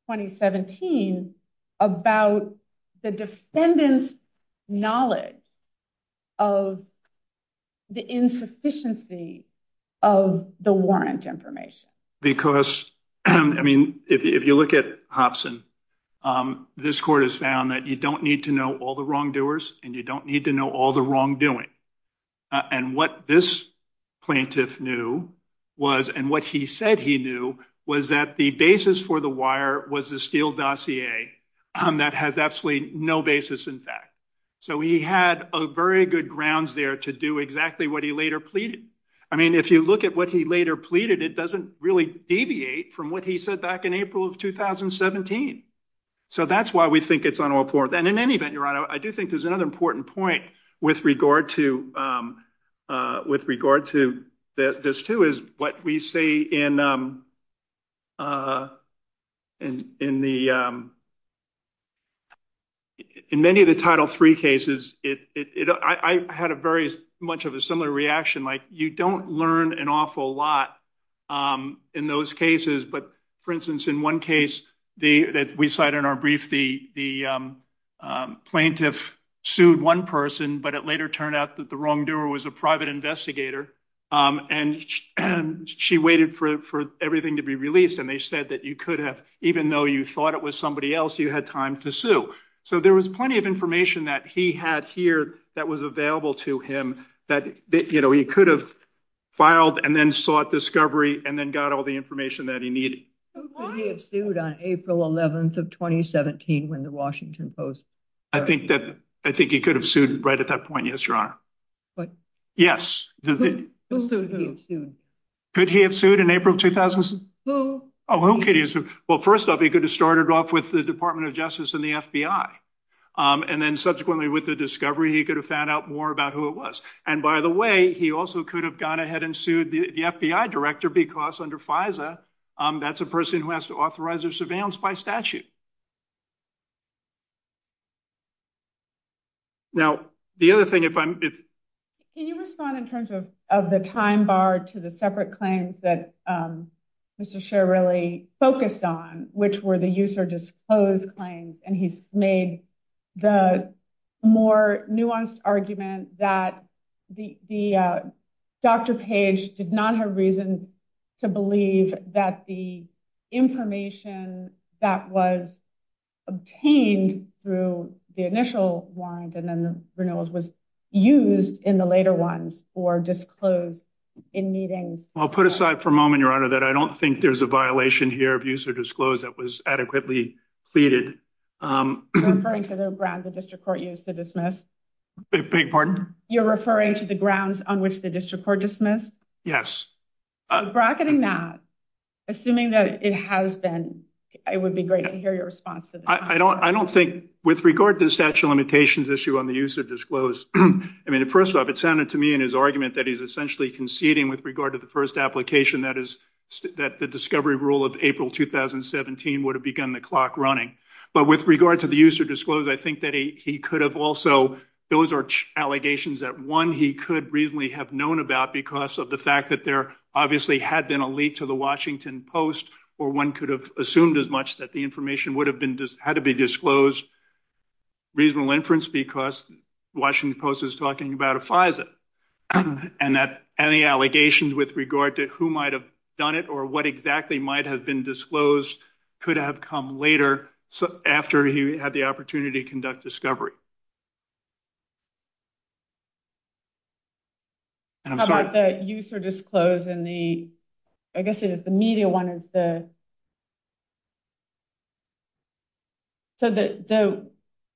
2017 about the defendant's knowledge of the insufficiency of the information? Because, I mean, if you look at Hobson, this court has found that you don't need to know all the wrongdoers, and you don't need to know all the wrongdoing. And what this plaintiff knew was, and what he said he knew, was that the basis for the wire was the Steele dossier. That has absolutely no basis in fact. So he had a very good grounds there to do exactly what he later pleaded. I doesn't really deviate from what he said back in April of 2017. So that's why we think it's unimportant. And in any event, Your Honor, I do think there's another important point with regard to this, too, is what we say in many of the Title III cases, I had a very much of a similar reaction. Like, you don't learn an awful lot in those cases. But, for instance, in one case that we cite in our brief, the plaintiff sued one person, but it later turned out that the wrongdoer was a private investigator, and she waited for everything to be released, and they said that you could have, even though you thought it was somebody else, you had time to sue. So there was plenty of information that he had here that was available to him that he could have filed and then sought discovery and then got all the information that he needed. Who could he have sued on April 11th of 2017 when the Washington Post? I think he could have sued right at that point, yes, Your Honor. Yes. Who could he have sued? Could he have sued in April of 2017? Who? Oh, who could he have sued? Well, first off, he could have started off with the Department of Justice and the FBI. And then subsequently with the discovery, he could have found out more about who it was. And by the way, he also could have gone ahead and sued the FBI director because under FISA, that's a person who has to authorize their surveillance by statute. Now, the other thing if I'm... Can you respond in terms of the time bar to the separate claims that Mr. Sher really focused on, which were the user-disclosed claims, and he's made the more nuanced argument that the... Dr. Page did not have reason to believe that the information that was obtained through the initial warrant and then the renewals was used in the later ones or disclosed in meetings. Well, put aside for a moment, Your Honor, that I don't think there's a violation here of disclosure that was adequately pleaded. You're referring to the grounds on which the district court dismissed? Yes. Bracketing that, assuming that it has been, it would be great to hear your response to this. I don't think... With regard to the statute of limitations issue on the user-disclosed, I mean, first off, it sounded to me in his argument that he's essentially conceding with regard to the first application, that is, that the discovery rule of April 2017 would have begun the clock running. But with regard to the user-disclosed, I think that he could have also... Those are allegations that, one, he could reasonably have known about because of the fact that there obviously had been a leak to the Washington Post, or one could have assumed as much that the information would have been... had to be disclosed. Reasonable inference because Washington Post is talking about a FISA, and that any allegations with regard to who might have done it or what exactly might have been disclosed could have come later, so after he had the opportunity to conduct discovery. How about the user-disclosed and the... I guess the media one is the... So the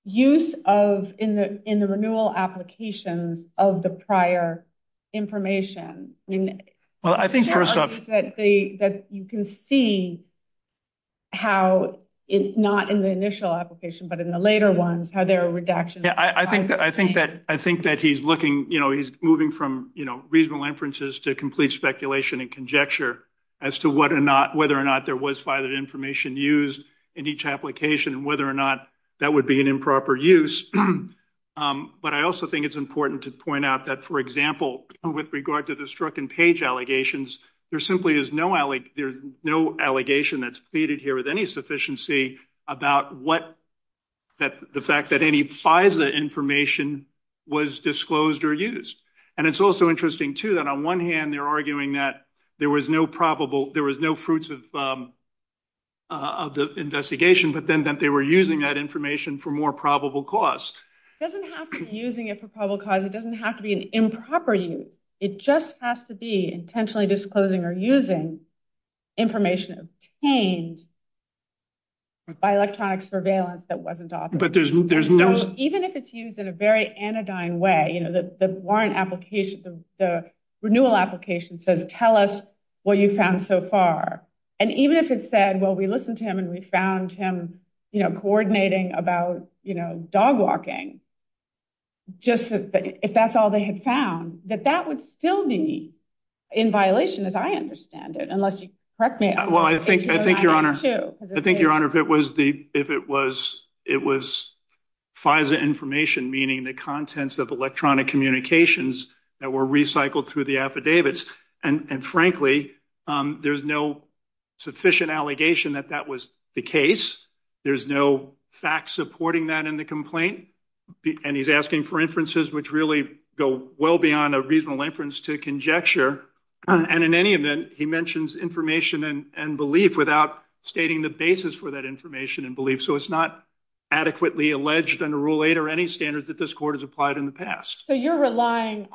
use of, in the renewal application, of the prior information... Well, I think first off... That you can see how it's not in the initial application, but in the later one, how there are reductions... Yeah, I think that he's looking, you know, he's moving from, you know, reasonable inferences to complete speculation and conjecture as to whether or not there was valid information used in each application and whether or not that would be an improper use. But I also think it's important to point out that, for example, with regard to the struck-and-page allegations, there simply is no... There's no allegation that's pleaded here with any sufficiency about what... The fact that any FISA information was disclosed or used. And it's also interesting, too, that on one hand they're arguing that there was no probable... There was no fruits of the investigation, but then that they were using that information for more probable cause. It doesn't have to be using it for probable cause. It doesn't have to be an improper use. It just has to be intentionally disclosing or using information obtained by electronic surveillance that wasn't authored. But there's no... Even if it's used in a very anodyne way, you know, the warrant application... The renewal application says, tell us what you found so far. And even if it said, well, we listened to him and we found him coordinating about, you know, dog walking, just if that's all they had found, that that would still be in violation, as I understand it, unless you correct me. Well, I think, Your Honor, if it was FISA information, meaning the contents of electronic communications that were recycled through the affidavits, and frankly, there's no sufficient allegation that that was the case. There's no fact supporting that in the complaint. And he's asking for inferences which really go well beyond a reasonable inference to conjecture. And in any event, he mentions information and belief without stating the basis for that information and belief. So it's not adequately alleged under Rule 8 or any standards that this court has applied in the past. So you're relying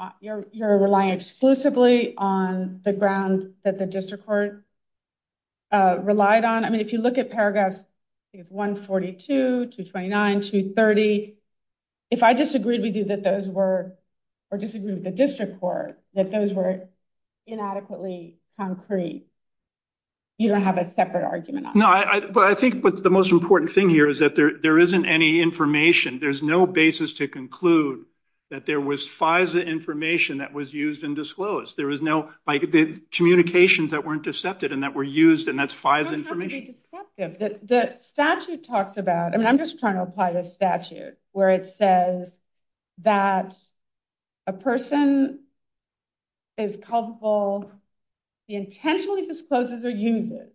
exclusively on the grounds that the if you look at paragraphs 142, 229, 230, if I disagreed with you that those were, or disagreed with the district court, that those were inadequately concrete, you don't have a separate argument. No, but I think the most important thing here is that there isn't any information. There's no basis to conclude that there was FISA information that was used and disclosed. There was no... Like, the communications that were intercepted and that were used, and that's FISA information. The statute talks about, and I'm just trying to apply this statute, where it says that a person is culpable, he intentionally discloses their uses,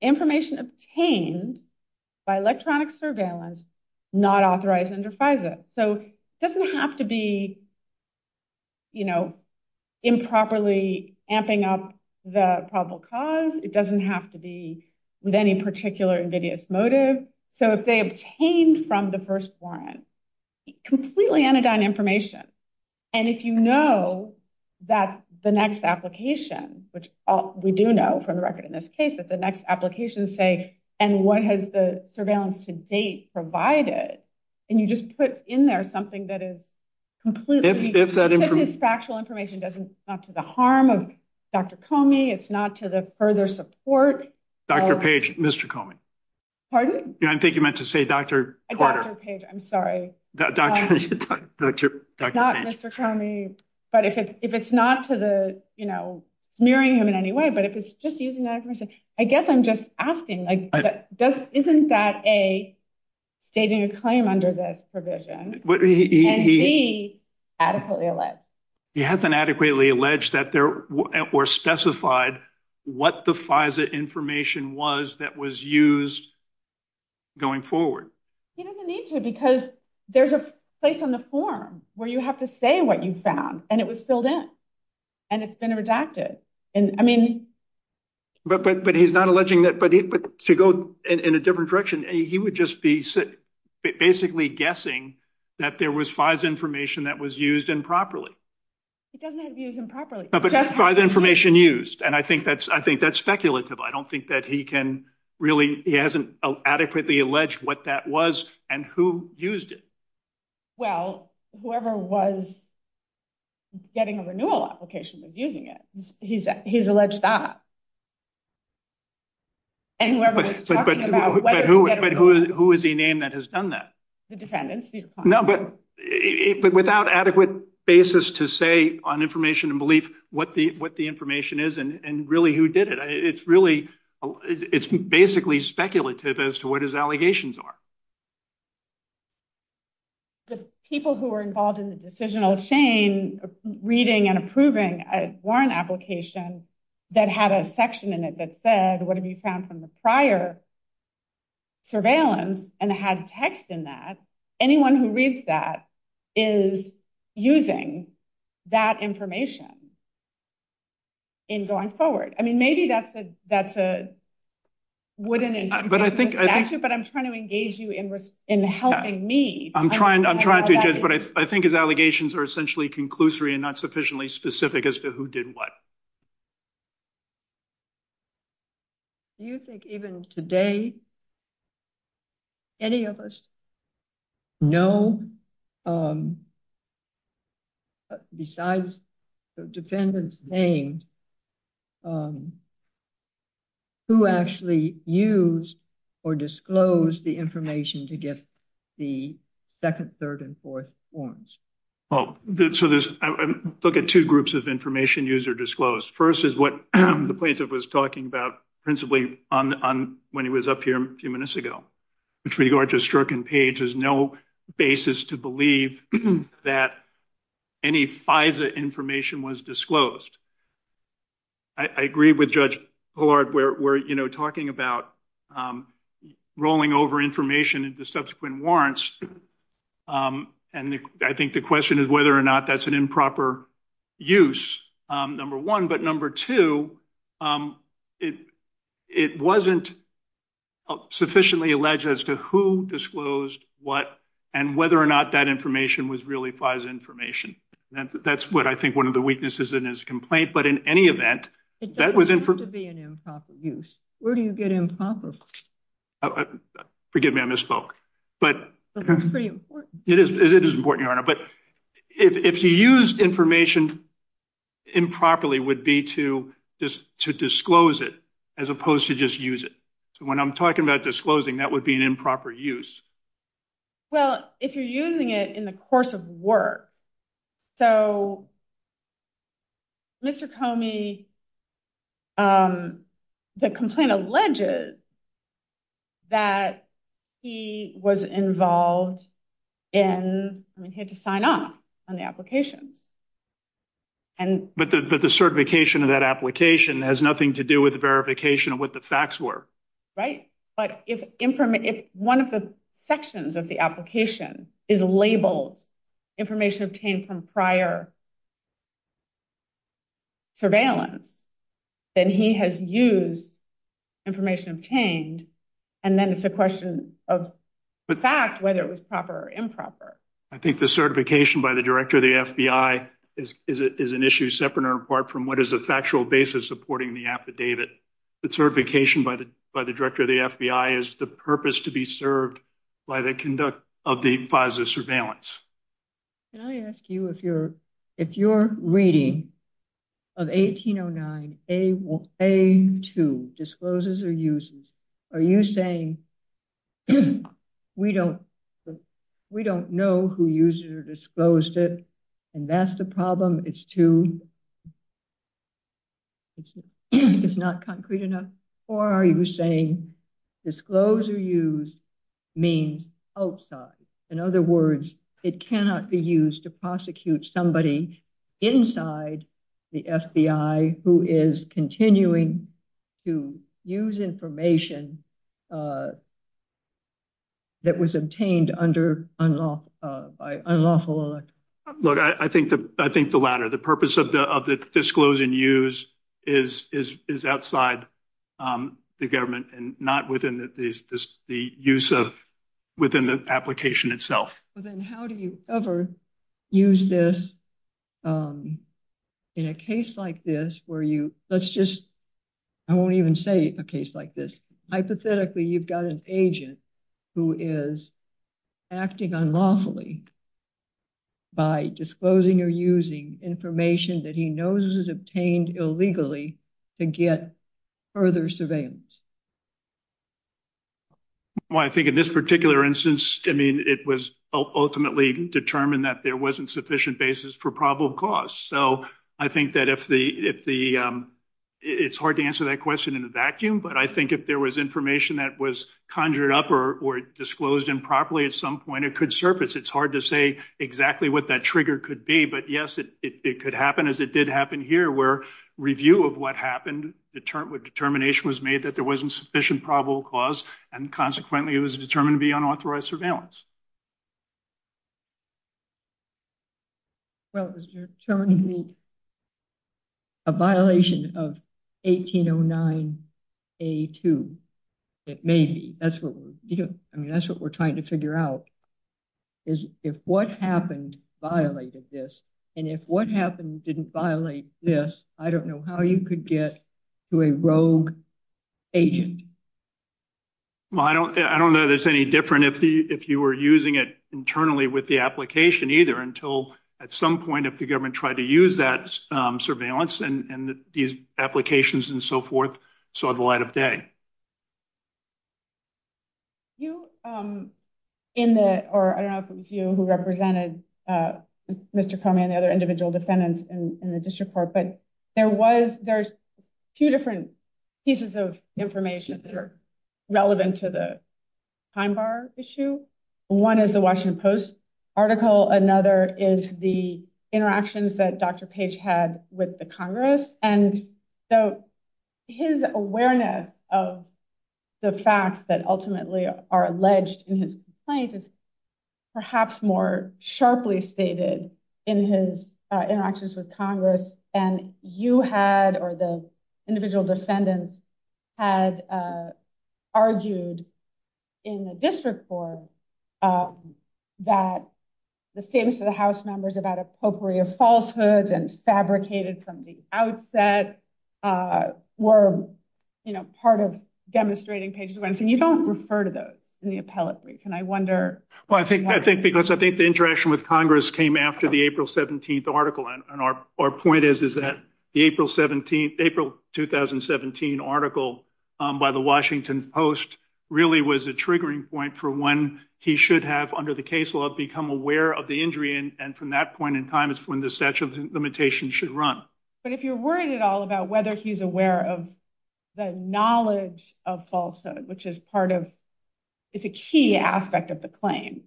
information obtained by electronic surveillance, not authorized under FISA. So it doesn't have to be, you know, improperly amping up the probable cause. It doesn't have to be with any particular invidious motive. So if they obtained from the first warrant completely unadorned information, and if you know that the next application, which we do know from the record in this case, that the next application say, and what has the surveillance to date provided, and you just put in there something that is completely factual information, it's not to the harm of Dr. Comey, it's not to the further support... Dr. Page, Mr. Comey. Pardon? I think you meant to say Dr. Carter. Dr. Page, I'm sorry. Not Mr. Comey, but if it's not to the, you know, smearing him in any way, but if it's just using that information, I guess I'm just asking, isn't that a, they do claim under this provision, and B, adequately alleged? He hasn't adequately alleged that there were specified what the FISA information was that was used going forward. He doesn't need to, because there's a place on the form where you have to say what you found, and it was filled in, and it's been redacted, and I mean... But he's not alleging that, but to go in a different direction, he would just be basically guessing that there was FISA information that was used improperly. It doesn't have to be used improperly. But FISA information used, and I think that's speculative. I don't think that he can really, he hasn't adequately alleged what that was, and who used it. Well, whoever was getting a renewal application was using it. He's alleged that. And whoever was talking about whether... But who is the name that has done that? The defendant. No, but without adequate basis to say on information and belief what the information is, and really who did it, it's really, it's basically speculative as to what his allegations are. The people who were involved in the decisional, Shane, reading and approving a warrant application that had a section in it that said, what have you found from the prior surveillance, and had text in that, anyone who reads that is using that information in going forward. I mean, maybe that's a wooden... But I think... But I'm trying to engage you in helping me. I'm trying to, but I think his allegations are essentially conclusory and not sufficiently specific as to who did what. Do you think even today, any of us know, besides the defendant's name, who actually used or disclosed the information to get the second, third, and fourth warrants? Well, so there's... I look at two groups of information used or disclosed. First is what the plaintiff was talking about, principally, when he was up here a few minutes ago. With regard to Strzok and Page, there's no basis to believe that any FISA information was disclosed. I agree with Judge Pollard. We're talking about rolling over information into subsequent warrants, and I think the question is whether or not that's an improper use, number one. But number two, it wasn't sufficiently alleged as to who disclosed what, and whether or not that information was really FISA information. That's what I think one of the weaknesses in his complaint. But in any event, that was... It doesn't have to be an improper use. Where do you get improper? Forgive me, I misspoke. But that's pretty important. It is important, Your Honor. But if he used information improperly would be to disclose it as opposed to just use it. So when I'm talking about disclosing, that would be an improper use. Well, if you're using it in the course of work. So Mr. Comey, the complaint alleges that he was involved in, he had to sign off on the application. But the certification of that application has nothing to do with the verification of what the facts were. Right. But if one of the sections of the application is labeled information obtained from prior surveillance, then he has used information obtained, and then it's a question of the facts, whether it was proper or improper. I think the certification by the Director of the FBI is an issue separate or apart from what is the factual basis supporting the affidavit. The certification by the Director of the FBI is the purpose to be served by the conduct of the positive surveillance. Can I ask you, if you're reading of 1809A2, discloses or uses, are you saying we don't know who used it or disclosed it, and that's the problem? It's too, it's not concrete enough? Or are you saying disclosed or used means outside? In other words, it cannot be used to prosecute somebody inside the FBI who is continuing to use information that was obtained by unlawful electors. I think the latter. The purpose of the disclosed and used is outside the government and not within the use of, within the application itself. Then how do you ever use this in a case like this where you, let's just, I won't even say a case like this. Hypothetically, you've got an agent who is acting unlawfully by disclosing or using information that he knows is obtained illegally to get further surveillance. Well, I think in this particular instance, I mean, it was ultimately determined that there wasn't sufficient basis for probable cause. So I think that if the, it's hard to answer that question in a vacuum, but I think if there was information that was conjured up or disclosed improperly at some point, it could surface. It's hard to say exactly what that trigger could be, but yes, it could happen as it did happen here where review of what happened, the determination was made that there wasn't sufficient probable cause, and consequently it was determined to be unauthorized surveillance. Well, it was determined to be a violation of 1809A2. It may be. I mean, that's what we're trying to figure out is if what happened violated this, and if what happened didn't violate this, I don't know how you could get to a rogue agent. Well, I don't know that it's any different if you were using it internally with the application either until at some point if the government tried to use that surveillance and these applications and so forth saw the light of day. You, in the, or I don't know if it was you who represented Mr. Komey and the other individual defendants in the district court, but there was, there's two different pieces of information that are relevant to the time bar issue. One is the Washington Post article. Another is the interactions that Dr. Page had with the Congress, and so his awareness of the facts that ultimately are alleged in his complaint is perhaps more sharply stated in his interactions with Congress, and you had or the individual defendants had argued in the district court that the statements of the House members about a potpourri of falsehoods and fabricated from the outset were part of demonstrating Page's points, and you don't refer to those in the appellate brief, and I wonder. Well, I think the interaction with Congress came after the April 17th article, and our point is that the April 2017 article by the Washington Post really was a triggering point for when he should have, under the case law, become aware of the injury, and from that point in time is when the statute of limitations should run. But if you're worried at all about whether he's aware of the knowledge of falsehood, which is part of the key aspect of the claim.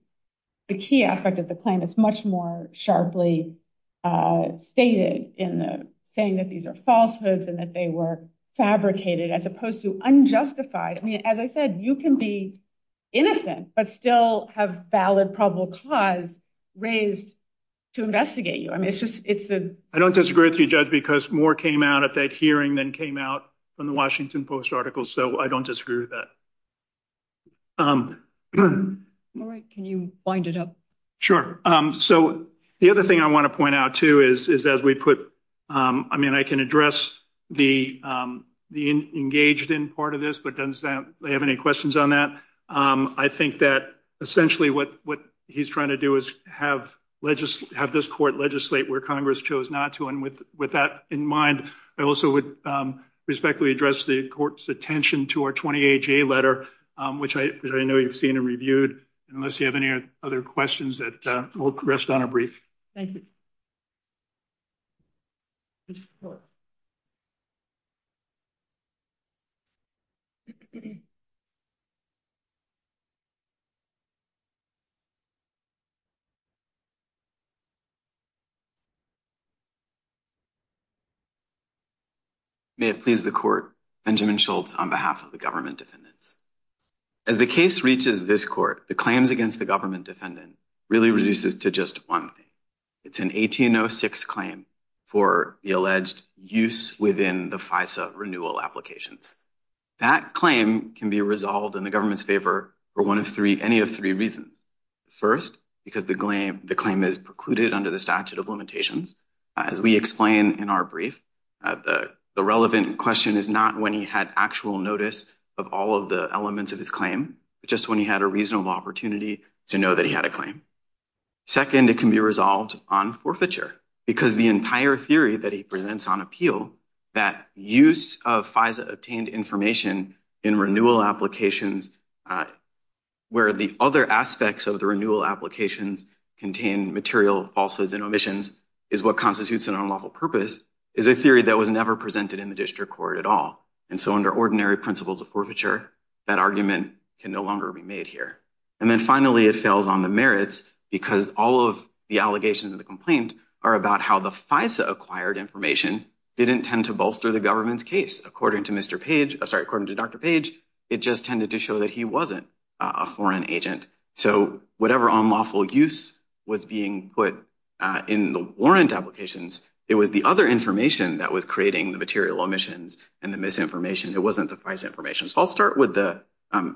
The key aspect of the claim is much more sharply stated in saying that these are falsehoods and that they were fabricated as opposed to unjustified. As I said, you can be innocent but still have valid probable cause raised to investigate you. I don't disagree with you, Judge, because more came out of that hearing than came out from the Washington Post article, so I don't disagree with that. Can you wind it up? So the other thing I want to point out, too, is as we put – I mean, I can address the engaged in part of this, but does anybody have any questions on that? I think that essentially what he's trying to do is have this court legislate where Congress chose not to, and with that in mind, I also would respectfully address the court's attention to our 20HA letter, which I know you've seen and reviewed. Unless you have any other questions, we'll rest on a brief. Thank you. May it please the court. Benjamin Schultz on behalf of the government defendants. As the case reaches this court, the claims against the government defendants really reduces to just one thing. It's an 1806 claim for the alleged use within the FISA renewal applications. That claim can be resolved in the government's favor for any of three reasons. First, because the claim is precluded under the statute of limitations. As we explain in our brief, the relevant question is not when he had actual notice of all of the elements of his claim, just when he had a reasonable opportunity to know that he had a claim. Second, it can be resolved on forfeiture, because the entire theory that he presents on appeal, that use of FISA-obtained information in renewal applications where the other aspects of the renewal applications contain material of falsehoods and omissions, is what constitutes an unlawful purpose, is a theory that was never presented in the district court at all. And so under ordinary principles of forfeiture, that argument can no longer be made here. And then finally, it fails on the merits, because all of the allegations in the complaint are about how the FISA-acquired information didn't tend to bolster the government's case. According to Dr. Page, it just tended to show that he wasn't a foreign agent. So whatever unlawful use was being put in the warrant applications, it was the other information that was creating the material omissions and the misinformation. It wasn't the FISA information. So I'll start with the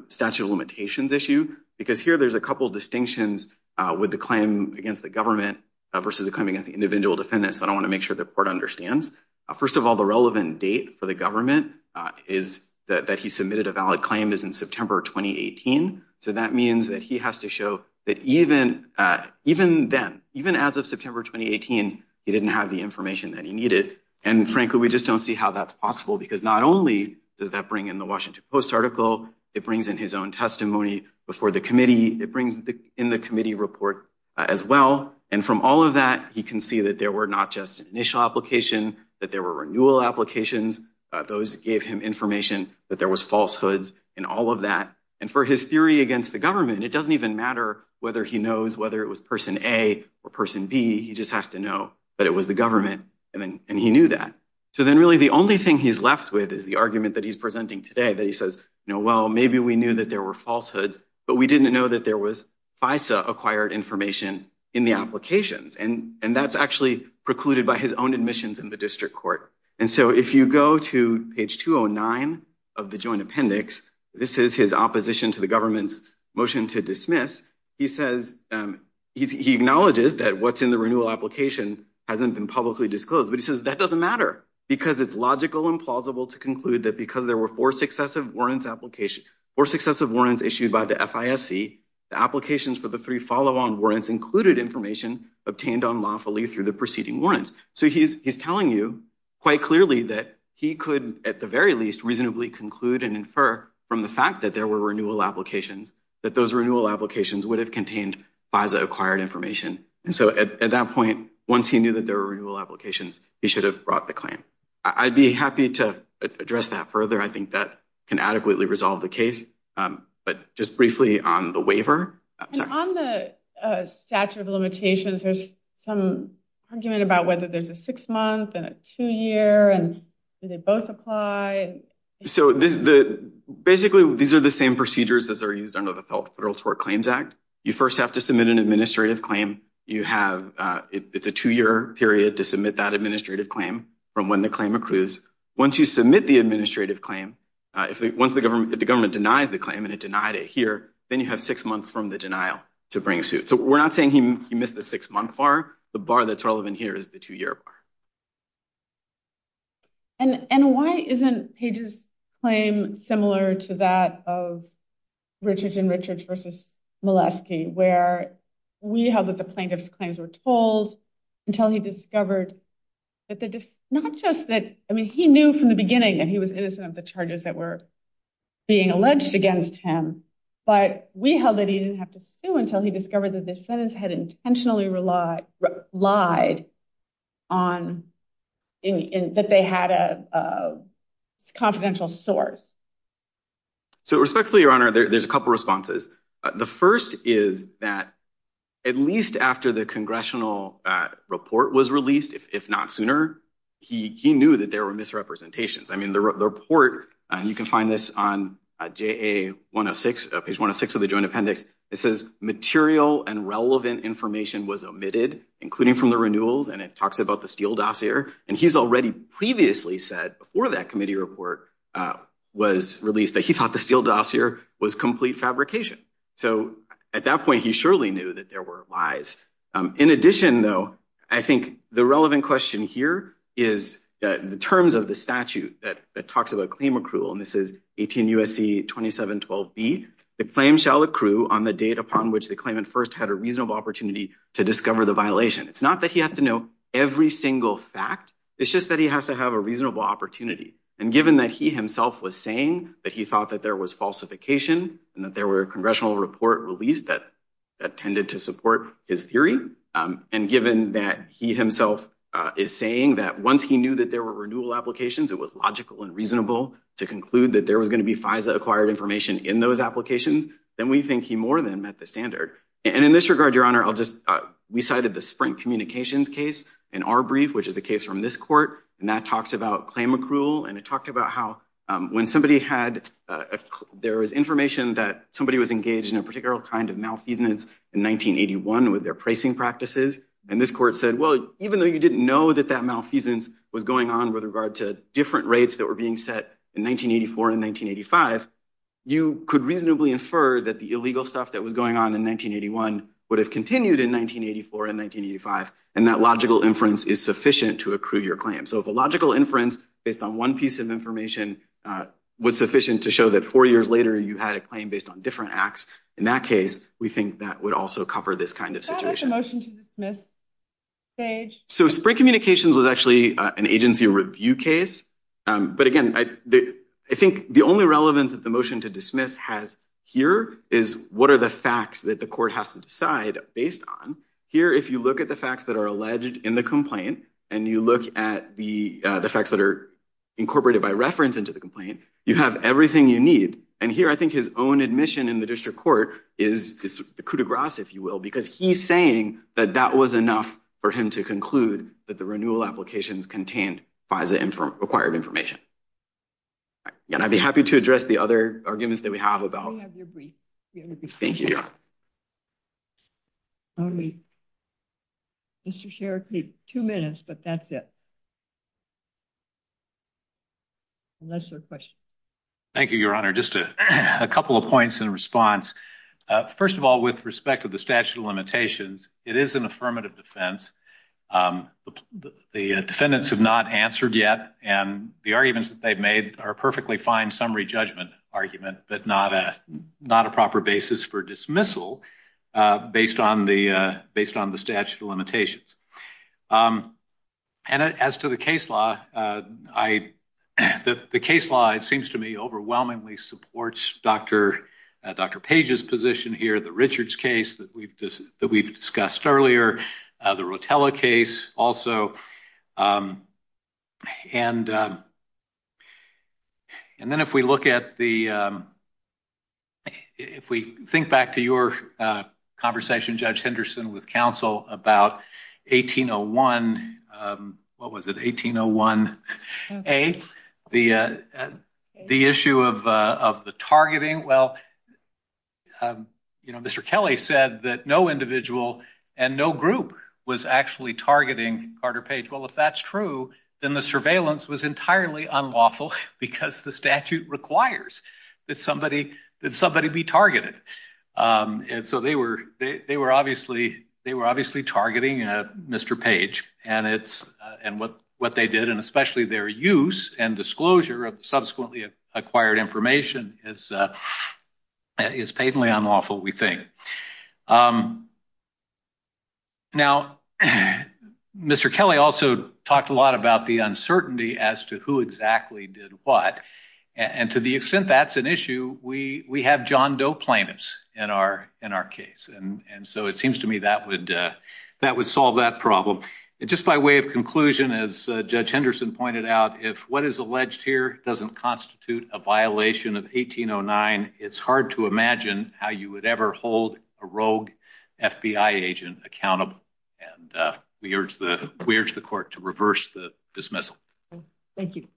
statute of limitations issue, because here there's a couple of distinctions with the claim against the government versus the claim against the individual defendants, but I want to make sure the court understands. First of all, the relevant date for the government that he submitted a valid claim is in September 2018. So that means that he has to show that even then, even as of September 2018, he didn't have the information that he needed. And frankly, we just don't see how that's possible, because not only does that bring in the Washington Post article, it brings in his own testimony before the committee. It brings in the committee report as well. And from all of that, you can see that there were not just initial application, that there were renewal applications. Those gave him information that there was falsehoods and all of that. And for his theory against the government, it doesn't even matter whether he knows whether it was person A or person B, he just has to know that it was the government, and he knew that. So then really the only thing he's left with is the argument that he's presenting today, that he says, you know, well, maybe we knew that there were falsehoods, but we didn't know that there was FISA-acquired information in the applications. And that's actually precluded by his own admissions in the district court. And so if you go to page 209 of the joint appendix, this is his opposition to the government's motion to dismiss. He acknowledges that what's in the renewal application hasn't been publicly disclosed, but he says that doesn't matter because it's logical and plausible to conclude that because there were four successive warrants issued by the FISC, the applications for the three follow-on warrants included information obtained unlawfully through the preceding warrants. So he's telling you quite clearly that he could at the very least reasonably conclude and infer from the fact that there were renewal applications that those renewal applications would have contained FISA-acquired information. And so at that point, once he knew that there were renewal applications, he should have brought the claim. I'd be happy to address that further. I think that can adequately resolve the case. But just briefly on the waiver. And on the statute of limitations, there's some argument about whether there's a six-month and a two-year, and do they both apply? So basically, these are the same procedures that are used under the Federal Support Claims Act. You first have to submit an administrative claim. It's a two-year period to submit that administrative claim from when the claim accrues. Once you submit the administrative claim, once the government denies the claim and it denied it here, then you have six months from the denial to bring suit. So we're not saying he missed the six-month bar. The bar that's relevant here is the two-year bar. And why isn't Page's claim similar to that of Richards and Richards v. Molesky, where we held that the plaintiff's claims were told until he discovered that not just that he knew from the beginning that he was innocent of the charges that were being alleged against him, but we held that he didn't have to sue until he discovered that the sentence had intentionally relied on... that they had a confidential source? So respectfully, Your Honor, there's a couple responses. The first is that at least after the congressional report was released, if not sooner, he knew that there were misrepresentations. I mean, the report, and you can find this on JA 106, Page 106 of the Joint Appendix, it says material and relevant information was omitted, including from the renewals, and it talks about the Steele dossier. And he's already previously said, before that committee report was released, that he thought the Steele dossier was complete fabrication. So at that point, he surely knew that there were lies. In addition, though, I think the relevant question here is that in the terms of the statute that talks about claim accrual, and this is 18 U.S.C. 2712b, the claim shall accrue on the date upon which the claimant first had a reasonable opportunity to discover the violation. It's not that he has to know every single fact. It's just that he has to have a reasonable opportunity. And given that he himself was saying that he thought that there was falsification and that there were congressional report released that tended to support his theory, and given that he himself is saying that once he knew that there were renewal applications, it was logical and reasonable to conclude that there was going to be FISA-acquired information in those applications, then we think he more than met the standard. And in this regard, Your Honor, we cited the Sprint Communications case in our brief, which is the case from this court, and that talks about claim accrual, and it talked about how when somebody had... there was information that somebody was engaged in a particular kind of malfeasance in 1981 with their pricing practices, and this court said, well, even though you didn't know that that malfeasance was going on with regard to different rates that were being set in 1984 and 1985, you could reasonably infer that the illegal stuff that was going on in 1981 would have continued in 1984 and 1985, and that logical inference is sufficient to accrue your claim. So if a logical inference based on one piece of information was sufficient to show that four years later, you had a claim based on different acts, in that case, we think that would also cover this kind of situation. Can I get the motion to dismiss, Sage? So Sprint Communications was actually an agency review case, but again, I think the only relevance that the motion to dismiss has here is what are the facts that the court has to decide based on. Here, if you look at the facts that are alleged in the complaint and you look at the facts that are incorporated by reference into the complaint, you have everything you need, and here, I think his own admission in the district court is this coup de grace, if you will, because he's saying that that was enough for him to conclude that the renewal application is contained by the required information. And I'd be happy to address the other arguments that we have about... We have your brief. Thank you, Your Honor. Mr. Sharkey, two minutes, but that's it. Unless there are questions. Thank you, Your Honor. Just a couple of points in response. First of all, with respect to the statute of limitations, it is an affirmative defense. The defendants have not answered yet, and the arguments that they've made are a perfectly fine summary judgment argument, but not a proper basis for dismissal based on the statute of limitations. And as to the case law, the case law, it seems to me, overwhelmingly supports Dr. Page's position here, the Richards case that we've discussed earlier, the Rotella case also. And then if we look at the... If we think back to your conversation, Judge Henderson, with counsel about 1801... What was it, 1801A? The issue of the targeting. Well, Mr. Kelly said that no individual and no group was actually targeting Carter Page. Well, if that's true, then the surveillance was entirely unlawful because the statute requires that somebody be targeted. And so they were obviously targeting Mr. Page, and what they did, and especially their use and disclosure of subsequently acquired information is patently unlawful, we think. Now, Mr. Kelly also talked a lot about the uncertainty as to who exactly did what, and to the extent that's an issue, we have John Doe plaintiffs in our case, and so it seems to me that would solve that problem. And just by way of conclusion, as Judge Henderson pointed out, if what is alleged here doesn't constitute a violation of 1809, it's hard to imagine how you would ever hold a rogue FBI agent accountable, and we urge the court to reverse the dismissal. Thank you.